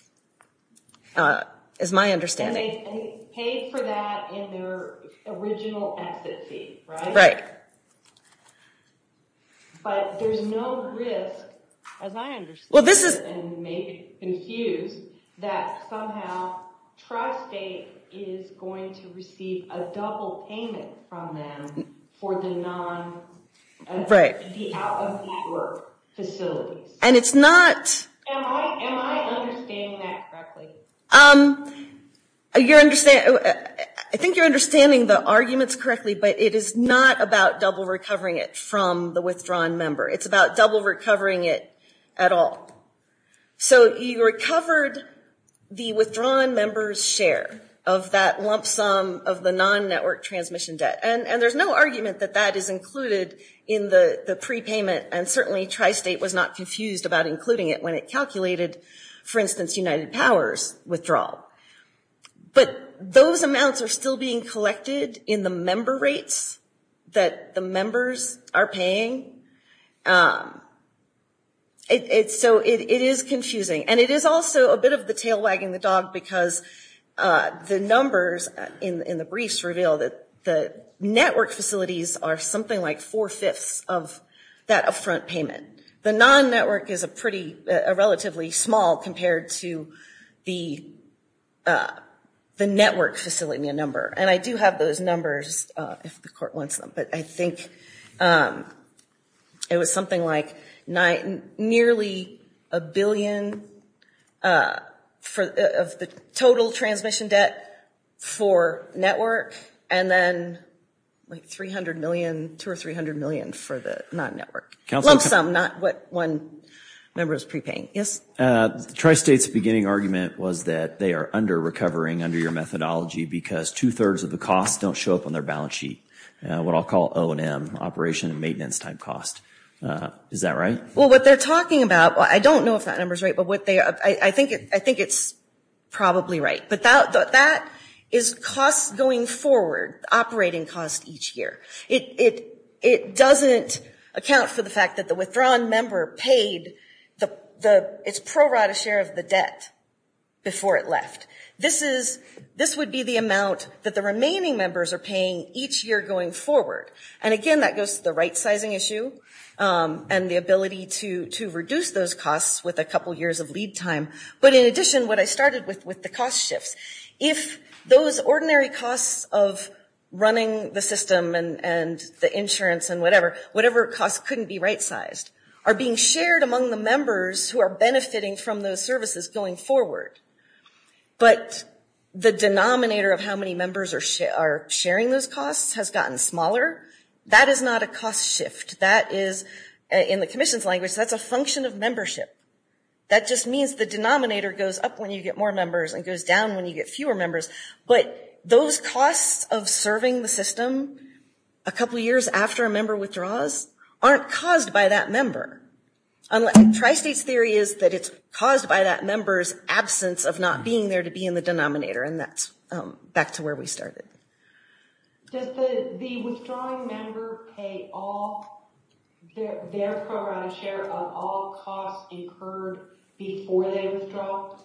is my understanding. And they paid for that in their original exit fees, right? Right. But there's no risk, as I understand it, and may be confused, that somehow Trusdate is going to receive a double payment from them for the non-network facility. And it's not. Am I understanding that correctly? I think you're understanding the arguments correctly, but it is not about double recovering it from the withdrawn member. It's about double recovering it at all. So you recovered the withdrawn member's share of that lump sum of the non-network transmission debt. And there's no argument that that is included in the prepayment, and certainly Trusdate was not confused about including it when it calculated, for instance, United Power's withdrawal. But those amounts are still being collected in the member rates that the members are paying. And so it is confusing. And it is also a bit of the tail wagging the dog because the numbers in the briefs reveal that the network facilities are something like four-fifths of that upfront payment. The non-network is a relatively small compared to the network facility number. And I do have those numbers, if the court wants them, but I think it was something like nearly a billion for the total transmission debt for networks, and then like 300 million, two or 300 million for the non-network. Lump sum, not what one member is prepaying. Yes? Trusdate's beginning argument was that they are under-recovering under your methodology because two-thirds of the costs don't show up on their balance sheet. What I'll call O and M, operation and maintenance time cost. Is that right? Well, what they're talking about, I don't know if that number's right, but I think it's probably right. But that is costs going forward, operating costs each year. It doesn't account for the fact that the withdrawn member paid its pro rata share of the debt before it left. This would be the amount that the remaining members are paying each year going forward. And again, that goes to the right-sizing issue and the ability to reduce those costs with a couple years of lead time. But in addition, what I started with, with the cost shift. If those ordinary costs of running the system and the insurance and whatever, whatever costs couldn't be right-sized are being shared among the members who are benefiting from those services going forward, but the denominator of how many members are sharing those costs has gotten smaller. That is not a cost shift. That is, in the commission's language, that's a function of membership. That just means the denominator goes up when you get more members and goes down when you get fewer members. But those costs of serving the system a couple years after a member withdraws aren't caused by that member. And Tri-State's theory is that it's caused by that member's absence of not being there to be in the denominator, and that's back to where we started. Does the withdrawing member pay off their fair share of all costs incurred before they withdraw?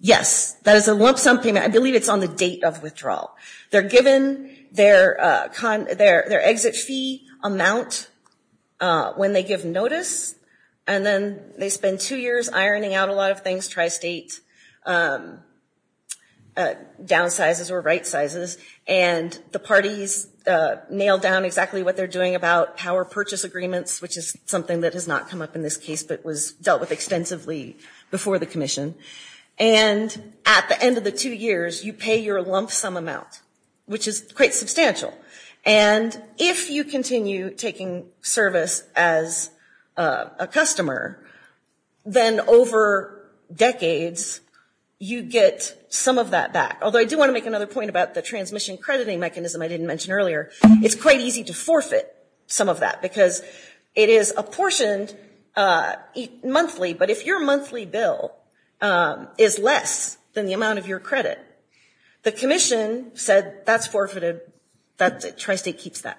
Yes, that is something, I believe it's on the date of withdrawal. They're given their exit fee amount when they give notice, and then they spend two years ironing out a lot of things, Tri-State downsizes or rightsizes, and the parties nail down exactly what they're doing about power purchase agreements, which is something that has not come up in this case, but was dealt with extensively before the commission. And at the end of the two years, you pay your lump-sum amount, which is quite substantial. And if you continue taking service as a customer, then over decades, you get some of that back. Although I do wanna make another point about the transmission crediting mechanism I didn't mention earlier. It's quite easy to forfeit some of that, because it is apportioned monthly, but if your monthly bill is less than the amount of your credit, the commission said, that's forfeited, that's it, Tri-State keeps that.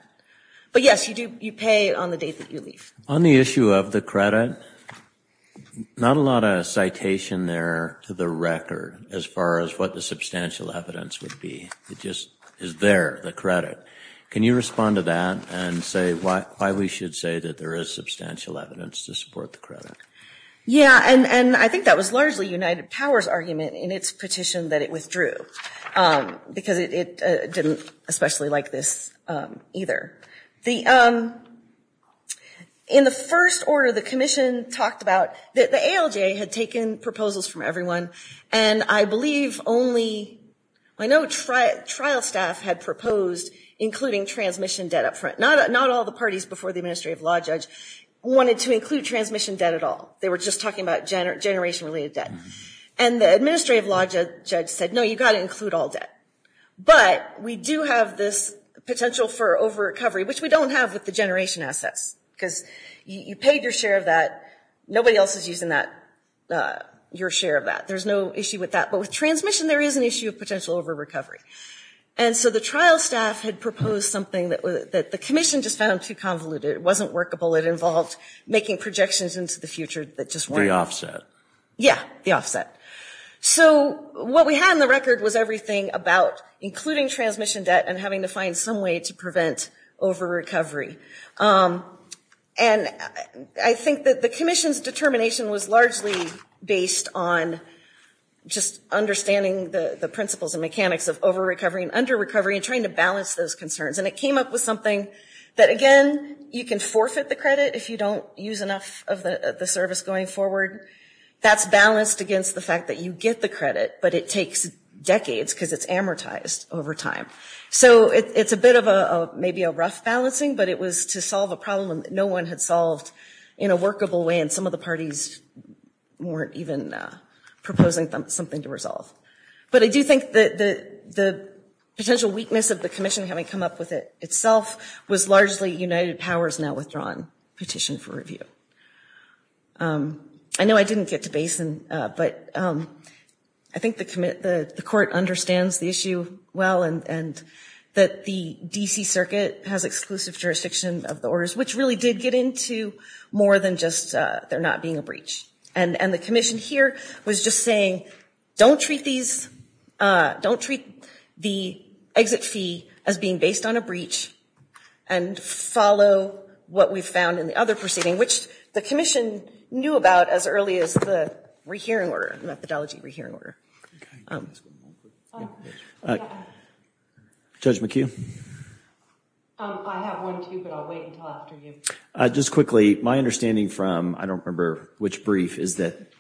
But yes, you pay on the days that you leave. On the issue of the credit, not a lot of citation there to the record, as far as what the substantial evidence would be. It just is there, the credit. Can you respond to that, and say why we should say that there is substantial evidence to support the credit? Yeah, and I think that was largely United Power's argument in its petition that it withdrew, because it didn't especially like this either. In the first order, the commission talked about that the ALJ had taken proposals from everyone, and I believe only, I know trial staff had proposed including transmission debt up front. Not all the parties before the administrative law judge wanted to include transmission debt at all. They were just talking about generationally debt. And the administrative law judge said, no, you gotta include all debt. But we do have this potential for over-recovery, which we don't have with the generation assets, because you paid your share of that. Nobody else is using your share of that. There's no issue with that. But with transmission, there is an issue of potential over-recovery. And so the trial staff had proposed something that the commission just found too convoluted. It wasn't workable. It involved making projections into the future that just weren't- The offset. Yeah, the offset. So what we had in the record was everything about including transmission debt and having to find some way to prevent over-recovery. And I think that the commission's determination was largely based on just understanding the principles and mechanics of over-recovery and under-recovery and trying to balance those concerns. And it came up with something that, again, you can forfeit the credit if you don't use enough of the service going forward. That's balanced against the fact that you get the credit, but it takes decades because it's amortized over time. So it's a bit of maybe a rough balancing, but it was to solve a problem that no one had solved in a workable way, and some of the parties weren't even proposing something to resolve. But I do think that the potential weakness of the commission having come up with it itself was largely United Powers now withdrawing petition for review. I know I didn't get to Basin, but I think the court understands the issue well and that the D.C. Circuit has exclusive jurisdiction of the orders, which really did get into more than just there not being a breach. And the commission here was just saying, don't treat the exit fee as being based on a breach and follow what we've found in the other proceeding, which the commission knew about as early as the methodology rehearing order. Judge McHugh? I have one too, but I'll wait until after you. Just quickly, my understanding from, I don't remember which brief, is that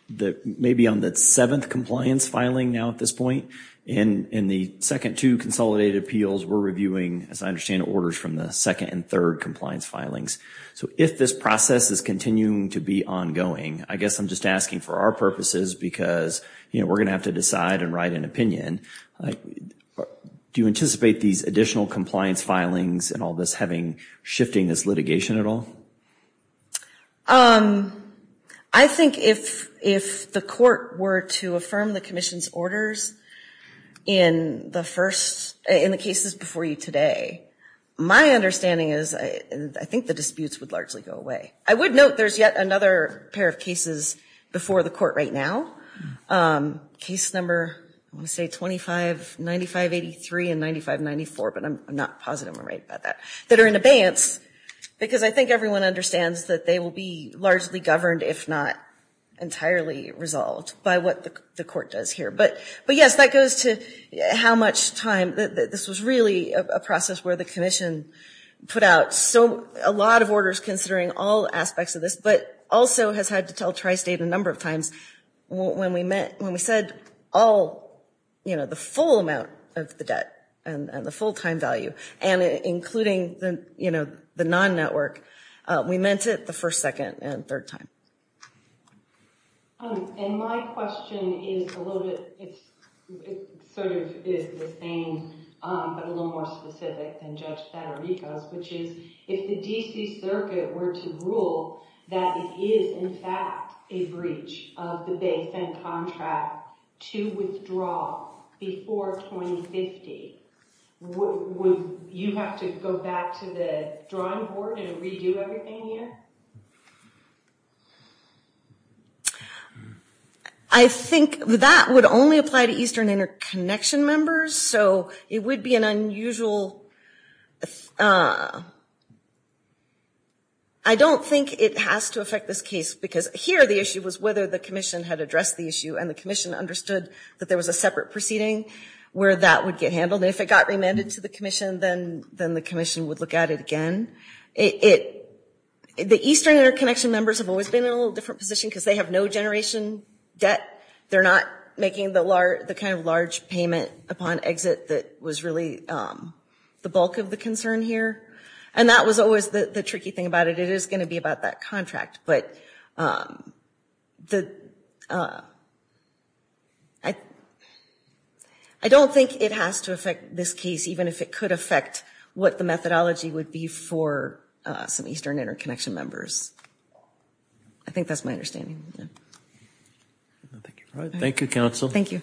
maybe on the seventh compliance filing now at this point, in the second two consolidated appeals, we're reviewing, as I understand, orders from the second and third compliance filings. So if this process is continuing to be ongoing, I guess I'm just asking for our purposes because we're gonna have to decide and write an opinion. And do you anticipate these additional compliance filings and all this having, shifting this litigation at all? I think if the court were to affirm the commission's orders in the first, in the cases before you today, my understanding is, I think the disputes would largely go away. I would note there's yet another pair of cases before the court right now. Case number, let me say 259583 and 9594, but I'm not positive I'm right about that, that are in abeyance because I think everyone understands that they will be largely governed, if not entirely resolved by what the court does here. But yes, that goes to how much time, this was really a process where the commission put out so a lot of orders considering all aspects of this, but also has had to tell Tri-State a number of times when we met, when we said all, the full amount of the debt and the full-time value and including the non-network, we meant it the first, second and third time. And my question is a little bit, it sort of is the same, but a little more specific than Judge Santorico, which is if the D.C. Circuit were to rule that it is in fact a breach of the base and contract to withdraw before 2050, would you have to go back to the drawing board and redo everything again? I think that would only apply to Eastern Interconnection members, so it would be an unusual, I don't think it has to affect this case because here the issue was whether the commission had addressed the issue and the commission understood that there was a separate proceeding where that would get handled. If it got remanded to the commission, then the commission would look at it again. The Eastern Interconnection members have always been in a little different position because they have no generation debt. They're not making the kind of large payment upon exit that was really, the bulk of the concern here, and that was always the tricky thing about it. It is gonna be about that contract, but I don't think it has to affect this case even if it could affect what the methodology would be for some Eastern Interconnection members. I think that's my understanding. Thank you, counsel. Thank you.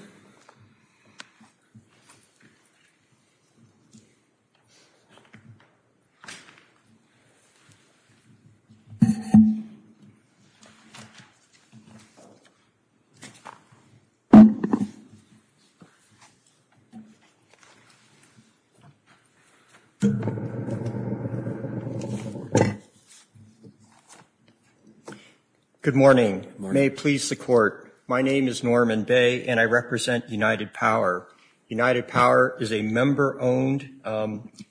Thank you. Good morning. May it please the court. My name is Norman Bay and I represent United Power. United Power is a member owned,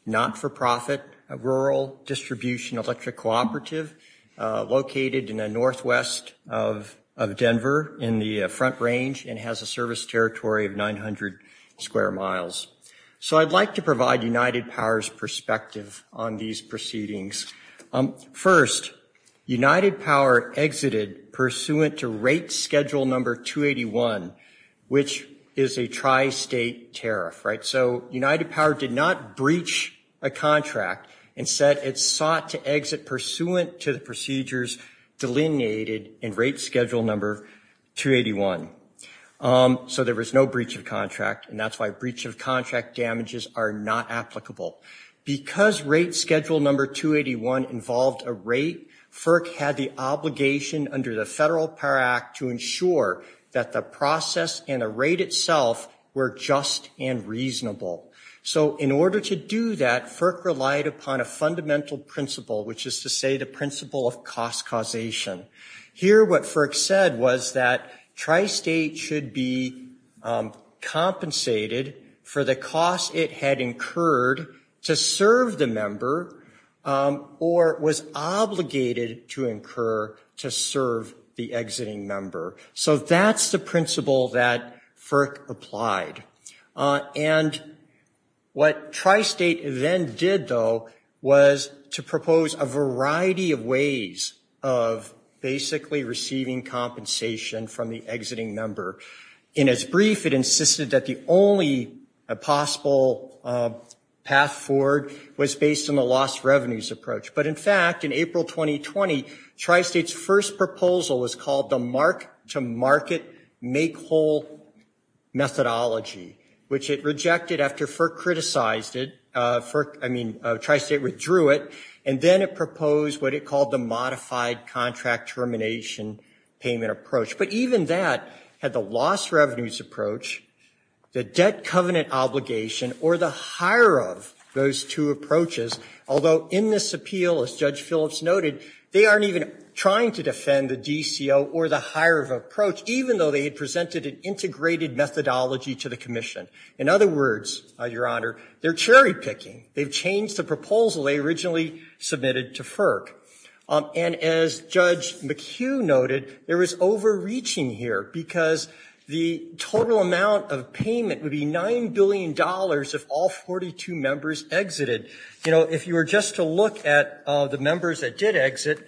not-for-profit, a rural distribution electric cooperative located in the Northwest of Denver in the Front Range and has a service territory of 900 square miles. So I'd like to provide United Power's perspective on these proceedings. First, United Power exited pursuant to rate schedule number 281, which is a tri-state tariff, right? So United Power did not breach a contract. Instead, it sought to exit pursuant to the procedures delineated in rate schedule number 381. So there was no breach of contract, and that's why breach of contract damages are not applicable. Because rate schedule number 281 involved a rate, FERC had the obligation under the Federal Power Act to ensure that the process and the rate itself were just and reasonable. So in order to do that, FERC relied upon a fundamental principle, which is to say the principle of cost causation. Here, what FERC said was that tri-state should be compensated for the cost it had incurred to serve the member or was obligated to incur to serve the exiting member. So that's the principle that FERC applied. And what tri-state then did, though, was to propose a variety of ways of basically receiving compensation from the exiting member. In its brief, it insisted that the only possible path forward was based on the lost revenues approach. But in fact, in April 2020, tri-state's first proposal was called the mark-to-market make-whole methodology, which it rejected after FERC criticized it. I mean, tri-state withdrew it. And then it proposed what it called the modified contract termination payment approach. But even that had the lost revenues approach, the debt covenant obligation, or the higher of those two approaches. Although in this appeal, as Judge Phillips noted, they aren't even trying to defend the DCO or the higher of approach, even though they had presented an integrated methodology to the commission. In other words, Your Honor, they're cherry picking. They've changed the proposal they originally submitted to FERC. And as Judge McHugh noted, there is overreaching here because the total amount of payment would be $9 billion if all 42 members exited. If you were just to look at the members that did exit,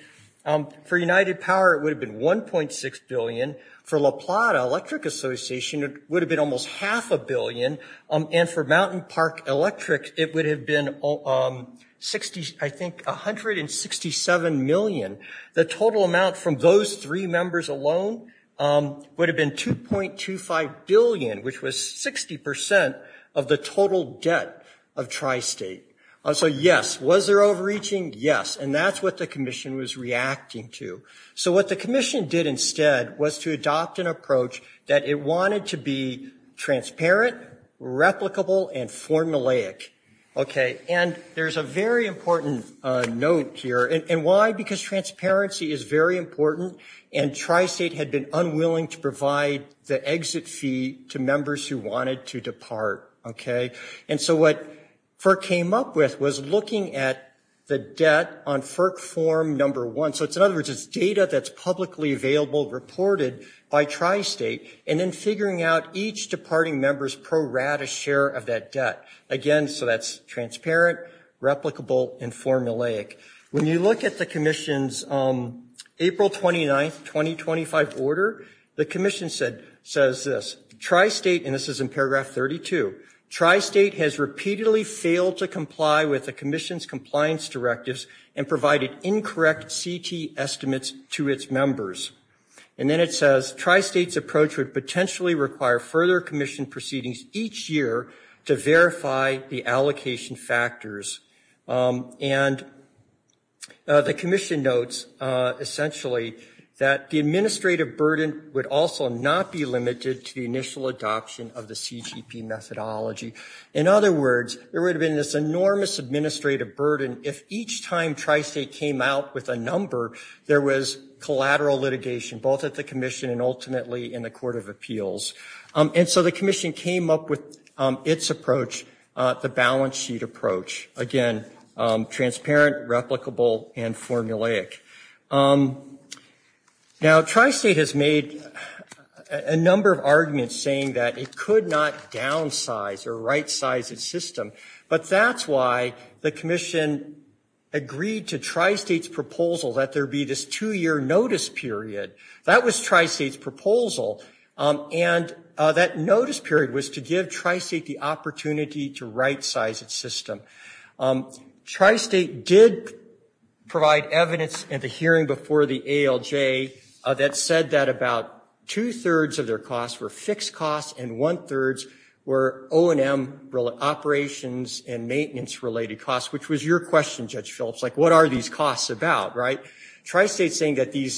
for United Power, it would have been 1.6 billion. For La Plata Electric Association, would have been almost half a billion. And for Mountain Park Electric, it would have been, I think, 167 million. The total amount from those three members alone would have been 2.25 billion, which was 60% of the total debt of Tri-State. So yes, was there overreaching? Yes, and that's what the commission was reacting to. So what the commission did instead was to adopt an approach that it wanted to be transparent, replicable, and formulaic. Okay, and there's a very important note here. And why? Because transparency is very important and Tri-State had been unwilling to provide the exit fee to members who wanted to depart, okay? And so what FERC came up with was looking at the debt on FERC form number one. So in other words, it's data that's publicly available, reported by Tri-State, and then figuring out each departing members pro-rata share of that debt. Again, so that's transparent, replicable, and formulaic. When you look at the commission's April 29th, 2025 order, the commission says this, Tri-State, and this is in paragraph 32, Tri-State has repeatedly failed to comply with the commission's compliance directives and provided incorrect CT estimates to its members. And then it says, Tri-State's approach would potentially require further commission proceedings each year to verify the allocation factors. And the commission notes essentially that the administrative burden would also not be limited to the initial adoption of the CGP methodology. In other words, there would have been this enormous administrative burden if each time Tri-State came out with a number, there was collateral litigation, both at the commission and ultimately in the Court of Appeals. And so the commission came up with its approach, the balance sheet approach. Again, transparent, replicable, and formulaic. Now, Tri-State has made a number of arguments saying that it could not downsize or right-size its system, but that's why the commission agreed to Tri-State's proposal that there be this two-year notice period. That was Tri-State's proposal. And that notice period was to give Tri-State the opportunity to right-size its system. Tri-State did provide evidence at the hearing before the ALJ that said that about two-thirds of their costs were fixed costs, and one-thirds were O&M operations and maintenance-related costs, which was your question, Judge Schultz. Like, what are these costs about, right? Tri-State's saying that the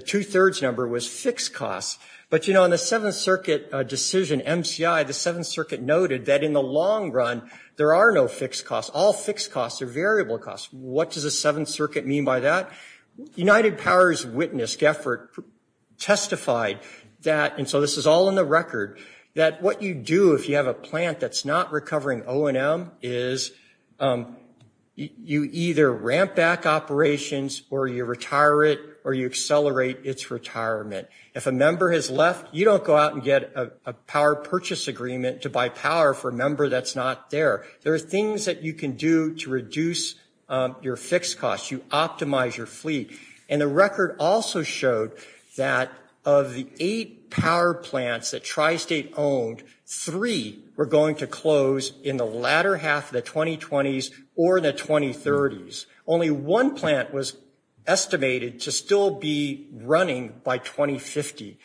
two-thirds number was fixed costs but on the Seventh Circuit decision, MCI, the Seventh Circuit noted that in the long run, there are no fixed costs. All fixed costs are variable costs. What does the Seventh Circuit mean by that? United Power's witness, Geffert, testified that, and so this is all in the record, that what you do if you have a plant that's not recovering O&M is you either ramp back operations or you retire it or you accelerate its retirement. If a member has left, you don't go out and get a power purchase agreement to buy power for a member that's not there. There are things that you can do to reduce your fixed costs. You optimize your fleet. And the record also showed that of the eight power plants that Tri-State owned, three were going to close in the latter half of the 2020s or the 2030s. Only one plant was estimated to still be running by 2050.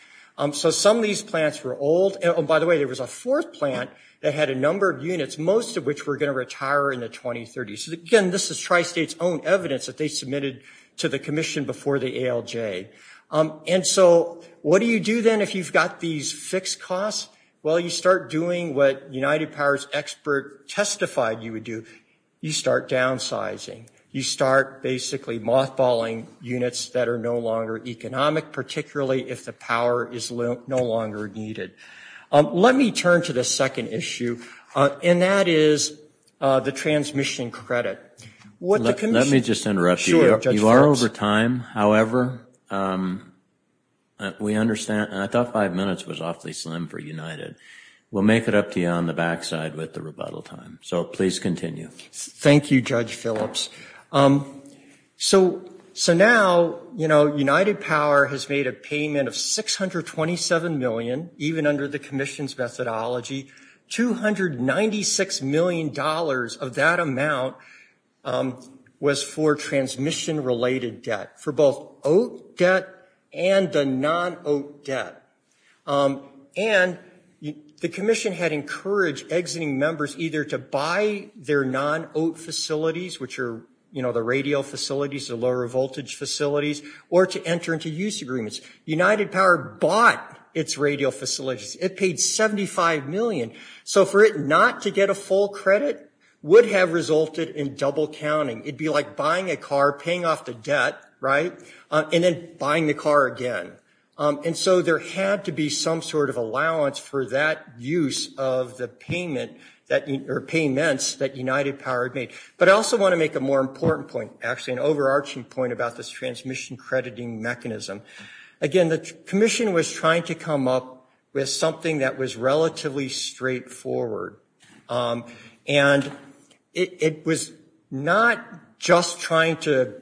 So some of these plants were old. By the way, there was a fourth plant that had a number of units, most of which were going to retire in the 2030s. Again, this is Tri-State's own evidence that they submitted to the commission before the ALJ. And so what do you do then if you've got these fixed costs? Well, you start doing what United Power's expert testified you would do. You start downsizing. You start basically mothballing units that are no longer economic, particularly if the power is no longer needed. Let me turn to the second issue, and that is the transmission credit. What the commission- Let me just interrupt you. You are over time. However, we understand, and I thought five minutes was awfully slim for United. We'll make it up to you on the backside with the rebuttal time. So please continue. Thank you, Judge Phillips. So now, United Power has made a payment of 627 million, even under the commission's methodology. $296 million of that amount was for transmission-related debt, for both OAT debt and the non-OAT debt. And the commission had encouraged exiting members either to buy their non-OAT facilities, which are the radial facilities, the lower voltage facilities, or to enter into use agreements. United Power bought its radial facilities. It paid 75 million. So for it not to get a full credit would have resulted in double counting. It'd be like buying a car, paying off the debt, right? And then buying the car again. And so there had to be some sort of allowance for that use of the payments that United Power made. But I also want to make a more important point, actually an overarching point about this transmission crediting mechanism. Again, the commission was trying to come up with something that was relatively straightforward. And it was not just trying to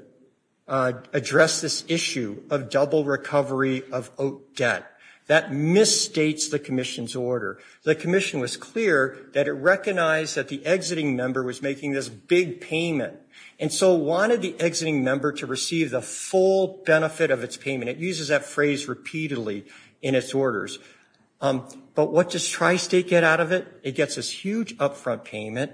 address this issue of double recovery of OAT debt. That misstates the commission's order. The commission was clear that it recognized that the exiting member was making this big payment. And so wanted the exiting member to receive the full benefit of its payment. It uses that phrase repeatedly in its orders. But what does Tri-State get out of it? It gets this huge upfront payment.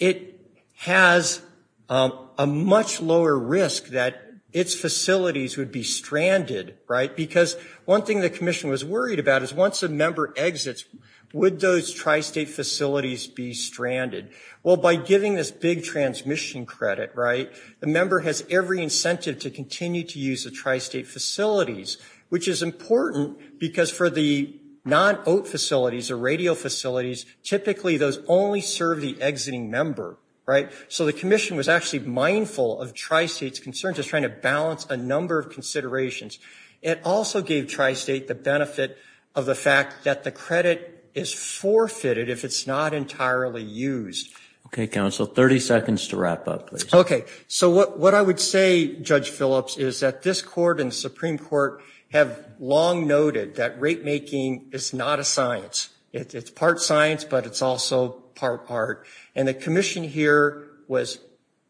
It has a much lower risk that its facilities would be stranded, right? Because one thing the commission was worried about is once a member exits, would those Tri-State facilities be stranded? Well, by giving this big transmission credit, right? The member has every incentive to continue to use the Tri-State facilities, which is important because for the non-OAT facilities, the radio facilities, typically those only serve the exiting member, right? So the commission was actually mindful of Tri-State's concerns as trying to balance a number of considerations. It also gave Tri-State the benefit of the fact that the credit is forfeited if it's not entirely used. Okay, counsel, 30 seconds to wrap up, please. Okay, so what I would say, Judge Phillips, is that this court and Supreme Court have long noted that rate making is not a science. It's part science, but it's also part art. And the commission here was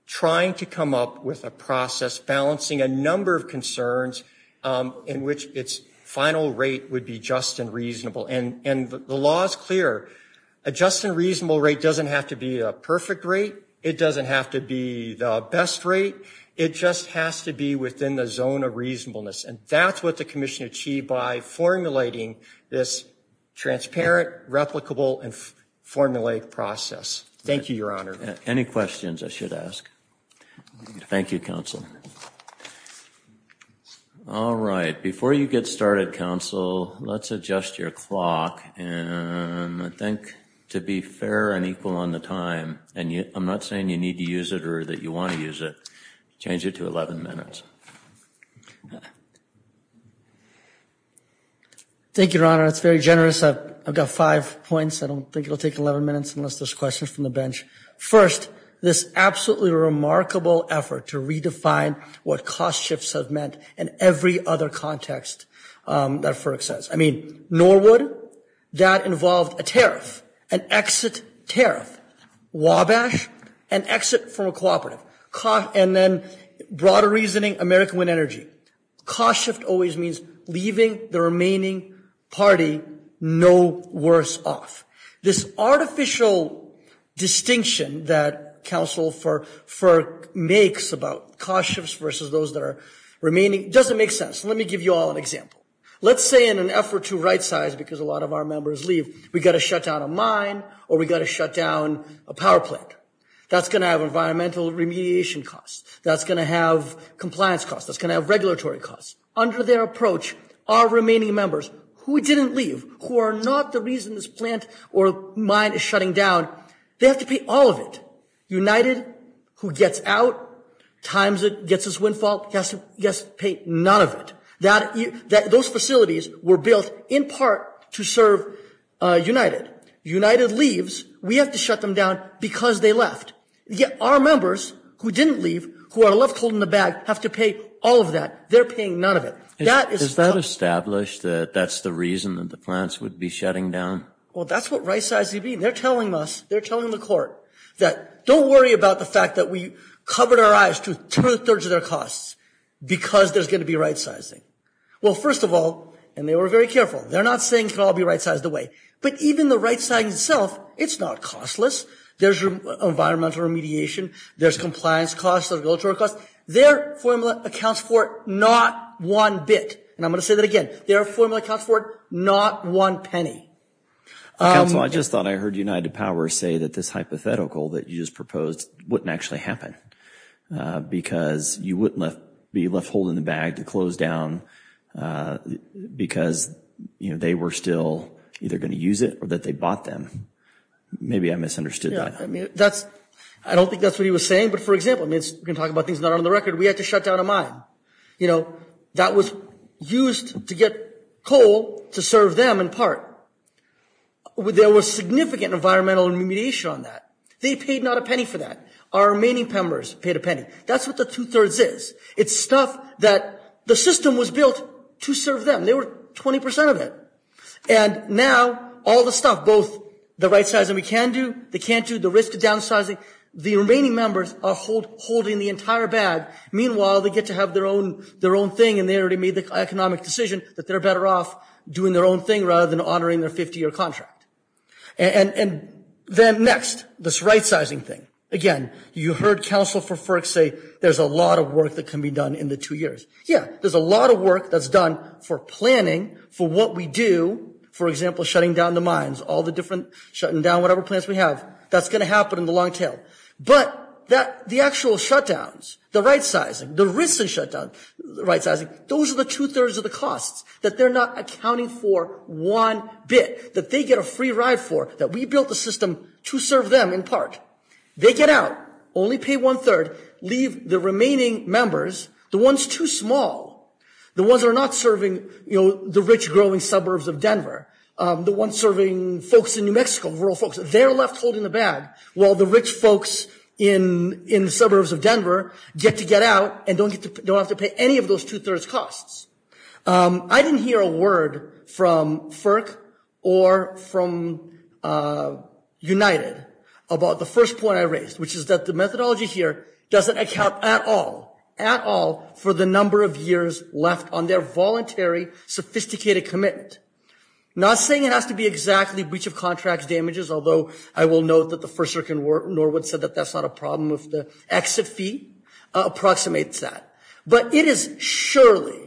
trying to come up with a process balancing a number of concerns in which its final rate would be just and reasonable. And the law is clear. A just and reasonable rate doesn't have to be a perfect rate. It doesn't have to be the best rate. It just has to be within the zone of reasonableness. And that's what the commission achieved by formulating this transparent, replicable, and formulated process. Thank you, Your Honor. Any questions I should ask? Thank you, counsel. All right, before you get started, counsel, let's adjust your clock. And I think to be fair and equal on the time, and I'm not saying you need to use it or that you want to use it, change it to 11 minutes. Thank you, Your Honor. That's very generous. I've got five points. I don't think it'll take 11 minutes unless there's questions from the bench. First, this absolutely remarkable effort to redefine what cost shifts have meant in every other context that FERC says. I mean, Norwood, that involved a tariff, an exit tariff. Wabash, an exit from a cooperative. And then broader reasoning, American Wind Energy. Cost shift always means leaving the remaining party no worse off. This artificial distinction that counsel FERC makes about cost shifts versus those that are remaining, doesn't make sense. Let me give you all an example. Let's say in an effort to right-size, because a lot of our members leave, we've got to shut down a mine or we've got to shut down a power plant. That's going to have environmental remediation costs. That's going to have compliance costs. That's going to have regulatory costs. Under their approach, our remaining members who didn't leave, who are not the reason this plant or mine is shutting down, they have to pay all of it. United, who gets out, times it, gets this windfall, has to, yes, pay none of it. Those facilities were built in part to serve United. United leaves, we have to shut them down because they left. Yet our members who didn't leave, who are left holding the bag, have to pay all of that. They're paying none of it. That is- Is that established that that's the reason that the plants would be shutting down? Well, that's what right-size would be. And they're telling us, they're telling the court that don't worry about the fact that we covered our eyes to two-thirds of their costs because there's going to be right-sizing. Well, first of all, and they were very careful, they're not saying it could all be right-sized away. But even the right-sizing itself, it's not costless. There's environmental remediation, there's compliance costs, there's regulatory costs. Their formula accounts for not one bit. And I'm going to say that again. Their formula accounts for not one penny. Counsel, I just thought I heard United Powers say that this hypothetical that you just proposed wouldn't actually happen because you wouldn't be left holding the bag to close down because they were still either going to use it or that they bought them. Maybe I misunderstood that. I mean, that's, I don't think that's what he was saying. But for example, I mean, we can talk about things not on the record. We had to shut down a mine. You know, that was used to get coal to serve them in part. There was significant environmental remediation on that. They paid not a penny for that. Our remaining members paid a penny. That's what the two-thirds is. It's stuff that the system was built to serve them. They were 20% of it. And now all the stuff, both the right-sizing we can do, they can't do, the risk of downsizing, the remaining members are holding the entire bag. Meanwhile, they get to have their own thing and they already made the economic decision that they're better off doing their own thing rather than honoring their 50-year contract. And then next, this right-sizing thing. Again, you heard Council for FERC say there's a lot of work that can be done in the two years. Yeah, there's a lot of work that's done for planning for what we do, for example, shutting down the mines, all the different, shutting down whatever plants we have. That's gonna happen in the long-term. But the actual shutdowns, the right-sizing, the risks of shutdowns, the right-sizing, those are the two-thirds of the costs that they're not accounting for one bit, that they get a free ride for, that we built the system to serve them in part. They get out, only pay one-third, leave the remaining members, the ones too small, the ones that are not serving the rich, growing suburbs of Denver, the ones serving folks in New Mexico, rural folks, they're left holding the bag while the rich folks in the suburbs of Denver get to get out and don't have to pay any of those two-thirds costs. I didn't hear a word from FERC or from United about the first point I raised, which is that the methodology here doesn't account at all, at all, for the number of years left on their voluntary, sophisticated commitment. Not saying it has to be exactly breach of contract damages, although I will note that the First Circuit in Norwood said that that's not a problem if the exit fee approximates that. But it is surely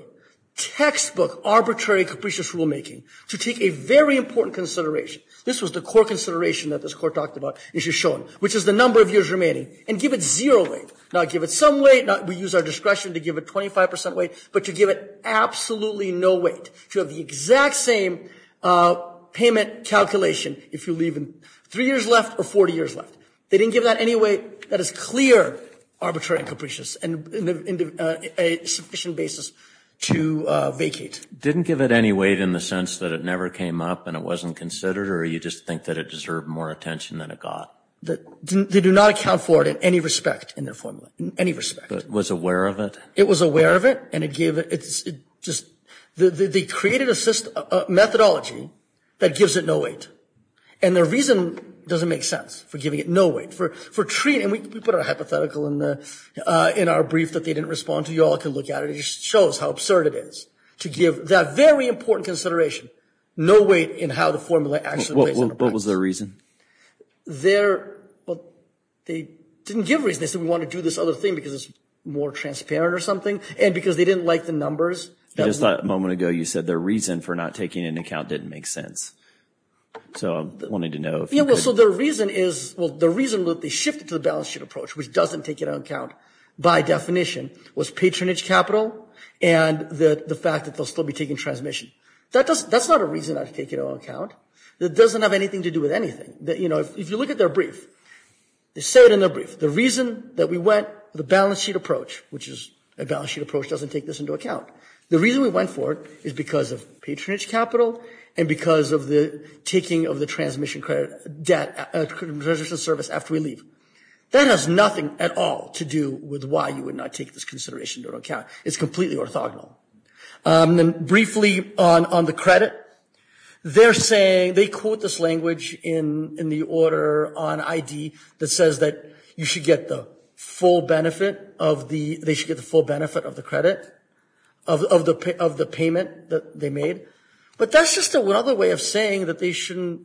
textbook, arbitrary, and capricious rulemaking to take a very important consideration, this was the core consideration that this court talked about, and it should show it, which is the number of years remaining, and give it zero weight. Not give it some weight, we use our discretion to give it 25% weight, but to give it absolutely no weight. To have the exact same payment calculation if you leave three years left or 40 years left. They didn't give that any weight that is clear, arbitrary, and capricious, and a sufficient basis to vacate. Didn't give it any weight in the sense that it never came up and it wasn't considered, or you just think that it deserved more attention than it got? They do not account for it in any respect, in their formula, in any respect. But was aware of it? It was aware of it, and it gave it, they created a methodology that gives it no weight. And their reason doesn't make sense for giving it no weight, for treating, and we put our hypothetical in our brief that they didn't respond to, you all can look at it, it just shows how absurd it is. To give that very important consideration, no weight in how the formula actually weighs. What was their reason? Their, well, they didn't give a reason, they said we want to do this other thing because it's more transparent or something, and because they didn't like the numbers. I just thought a moment ago you said their reason for not taking it into account didn't make sense. So I'm wanting to know. Yeah, well, so their reason is, well, the reason that they shifted to the balance sheet approach, which doesn't take it into account by definition, was patronage capital and the fact that they'll still be taking transmission. That's not a reason I've taken it into account. It doesn't have anything to do with anything. If you look at their brief, they said in their brief, the reason that we went the balance sheet approach, which is a balance sheet approach doesn't take this into account. The reason we went for it is because of patronage capital and because of the taking of the transmission credit, debt, a credential service after we leave. That has nothing at all to do with why you would not take this consideration into account. It's completely orthogonal. And briefly on the credit, they're saying, they quote this language in the order on ID that says that you should get the full benefit of the, they should get the full benefit of the credit, of the payment that they made. But that's just another way of saying that they shouldn't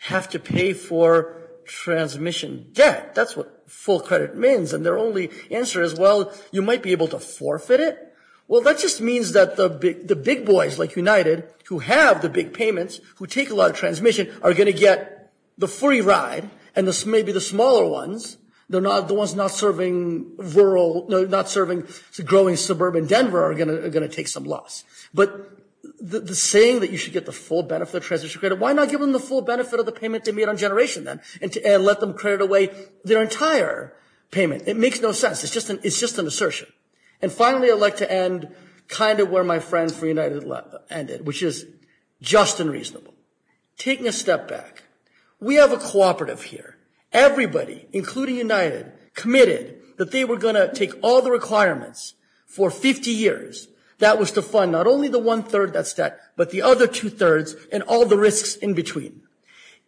have to pay for transmission. That's what full credit means. And their only answer is, well, you might be able to forfeit it. Well, that just means that the big boys like United who have the big payments, who take a lot of transmission are gonna get the free ride. And this may be the smaller ones. They're not the ones not serving rural, not serving growing suburban Denver are gonna take some loss. But the saying that you should get the full benefit of transmission credit, why not give them the full benefit of the payment they made on generation then and let them credit away their entire payment. It makes no sense. It's just an assertion. And finally, I'd like to end kind of where my friends from United ended, which is just unreasonable. Taking a step back, we have a cooperative here. Everybody, including United, committed that they were gonna take all the requirements for 50 years. That was to fund not only the one third that's set, but the other two thirds and all the risks in between.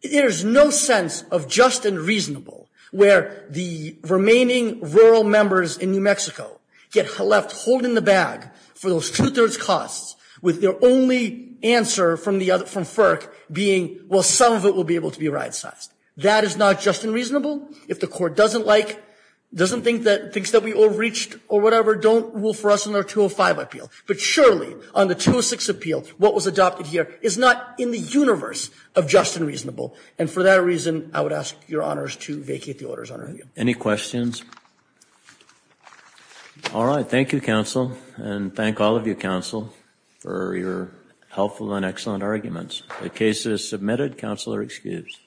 There's no sense of just and reasonable where the remaining rural members in New Mexico get left holding the bag for those two thirds costs with their only answer from FERC being, well, some of it will be able to be right side. That is not just unreasonable. If the court doesn't like, doesn't think that, thinks that we overreached or whatever, don't rule for us in our 205 appeal. But surely on the 206 appeal, what was adopted here is not in the universe of just and reasonable. And for that reason, I would ask your honors to vacate the orders. Any questions? All right. Thank you, counsel. And thank all of you counsel for your helpful and excellent arguments. The case is submitted. Counselor excused.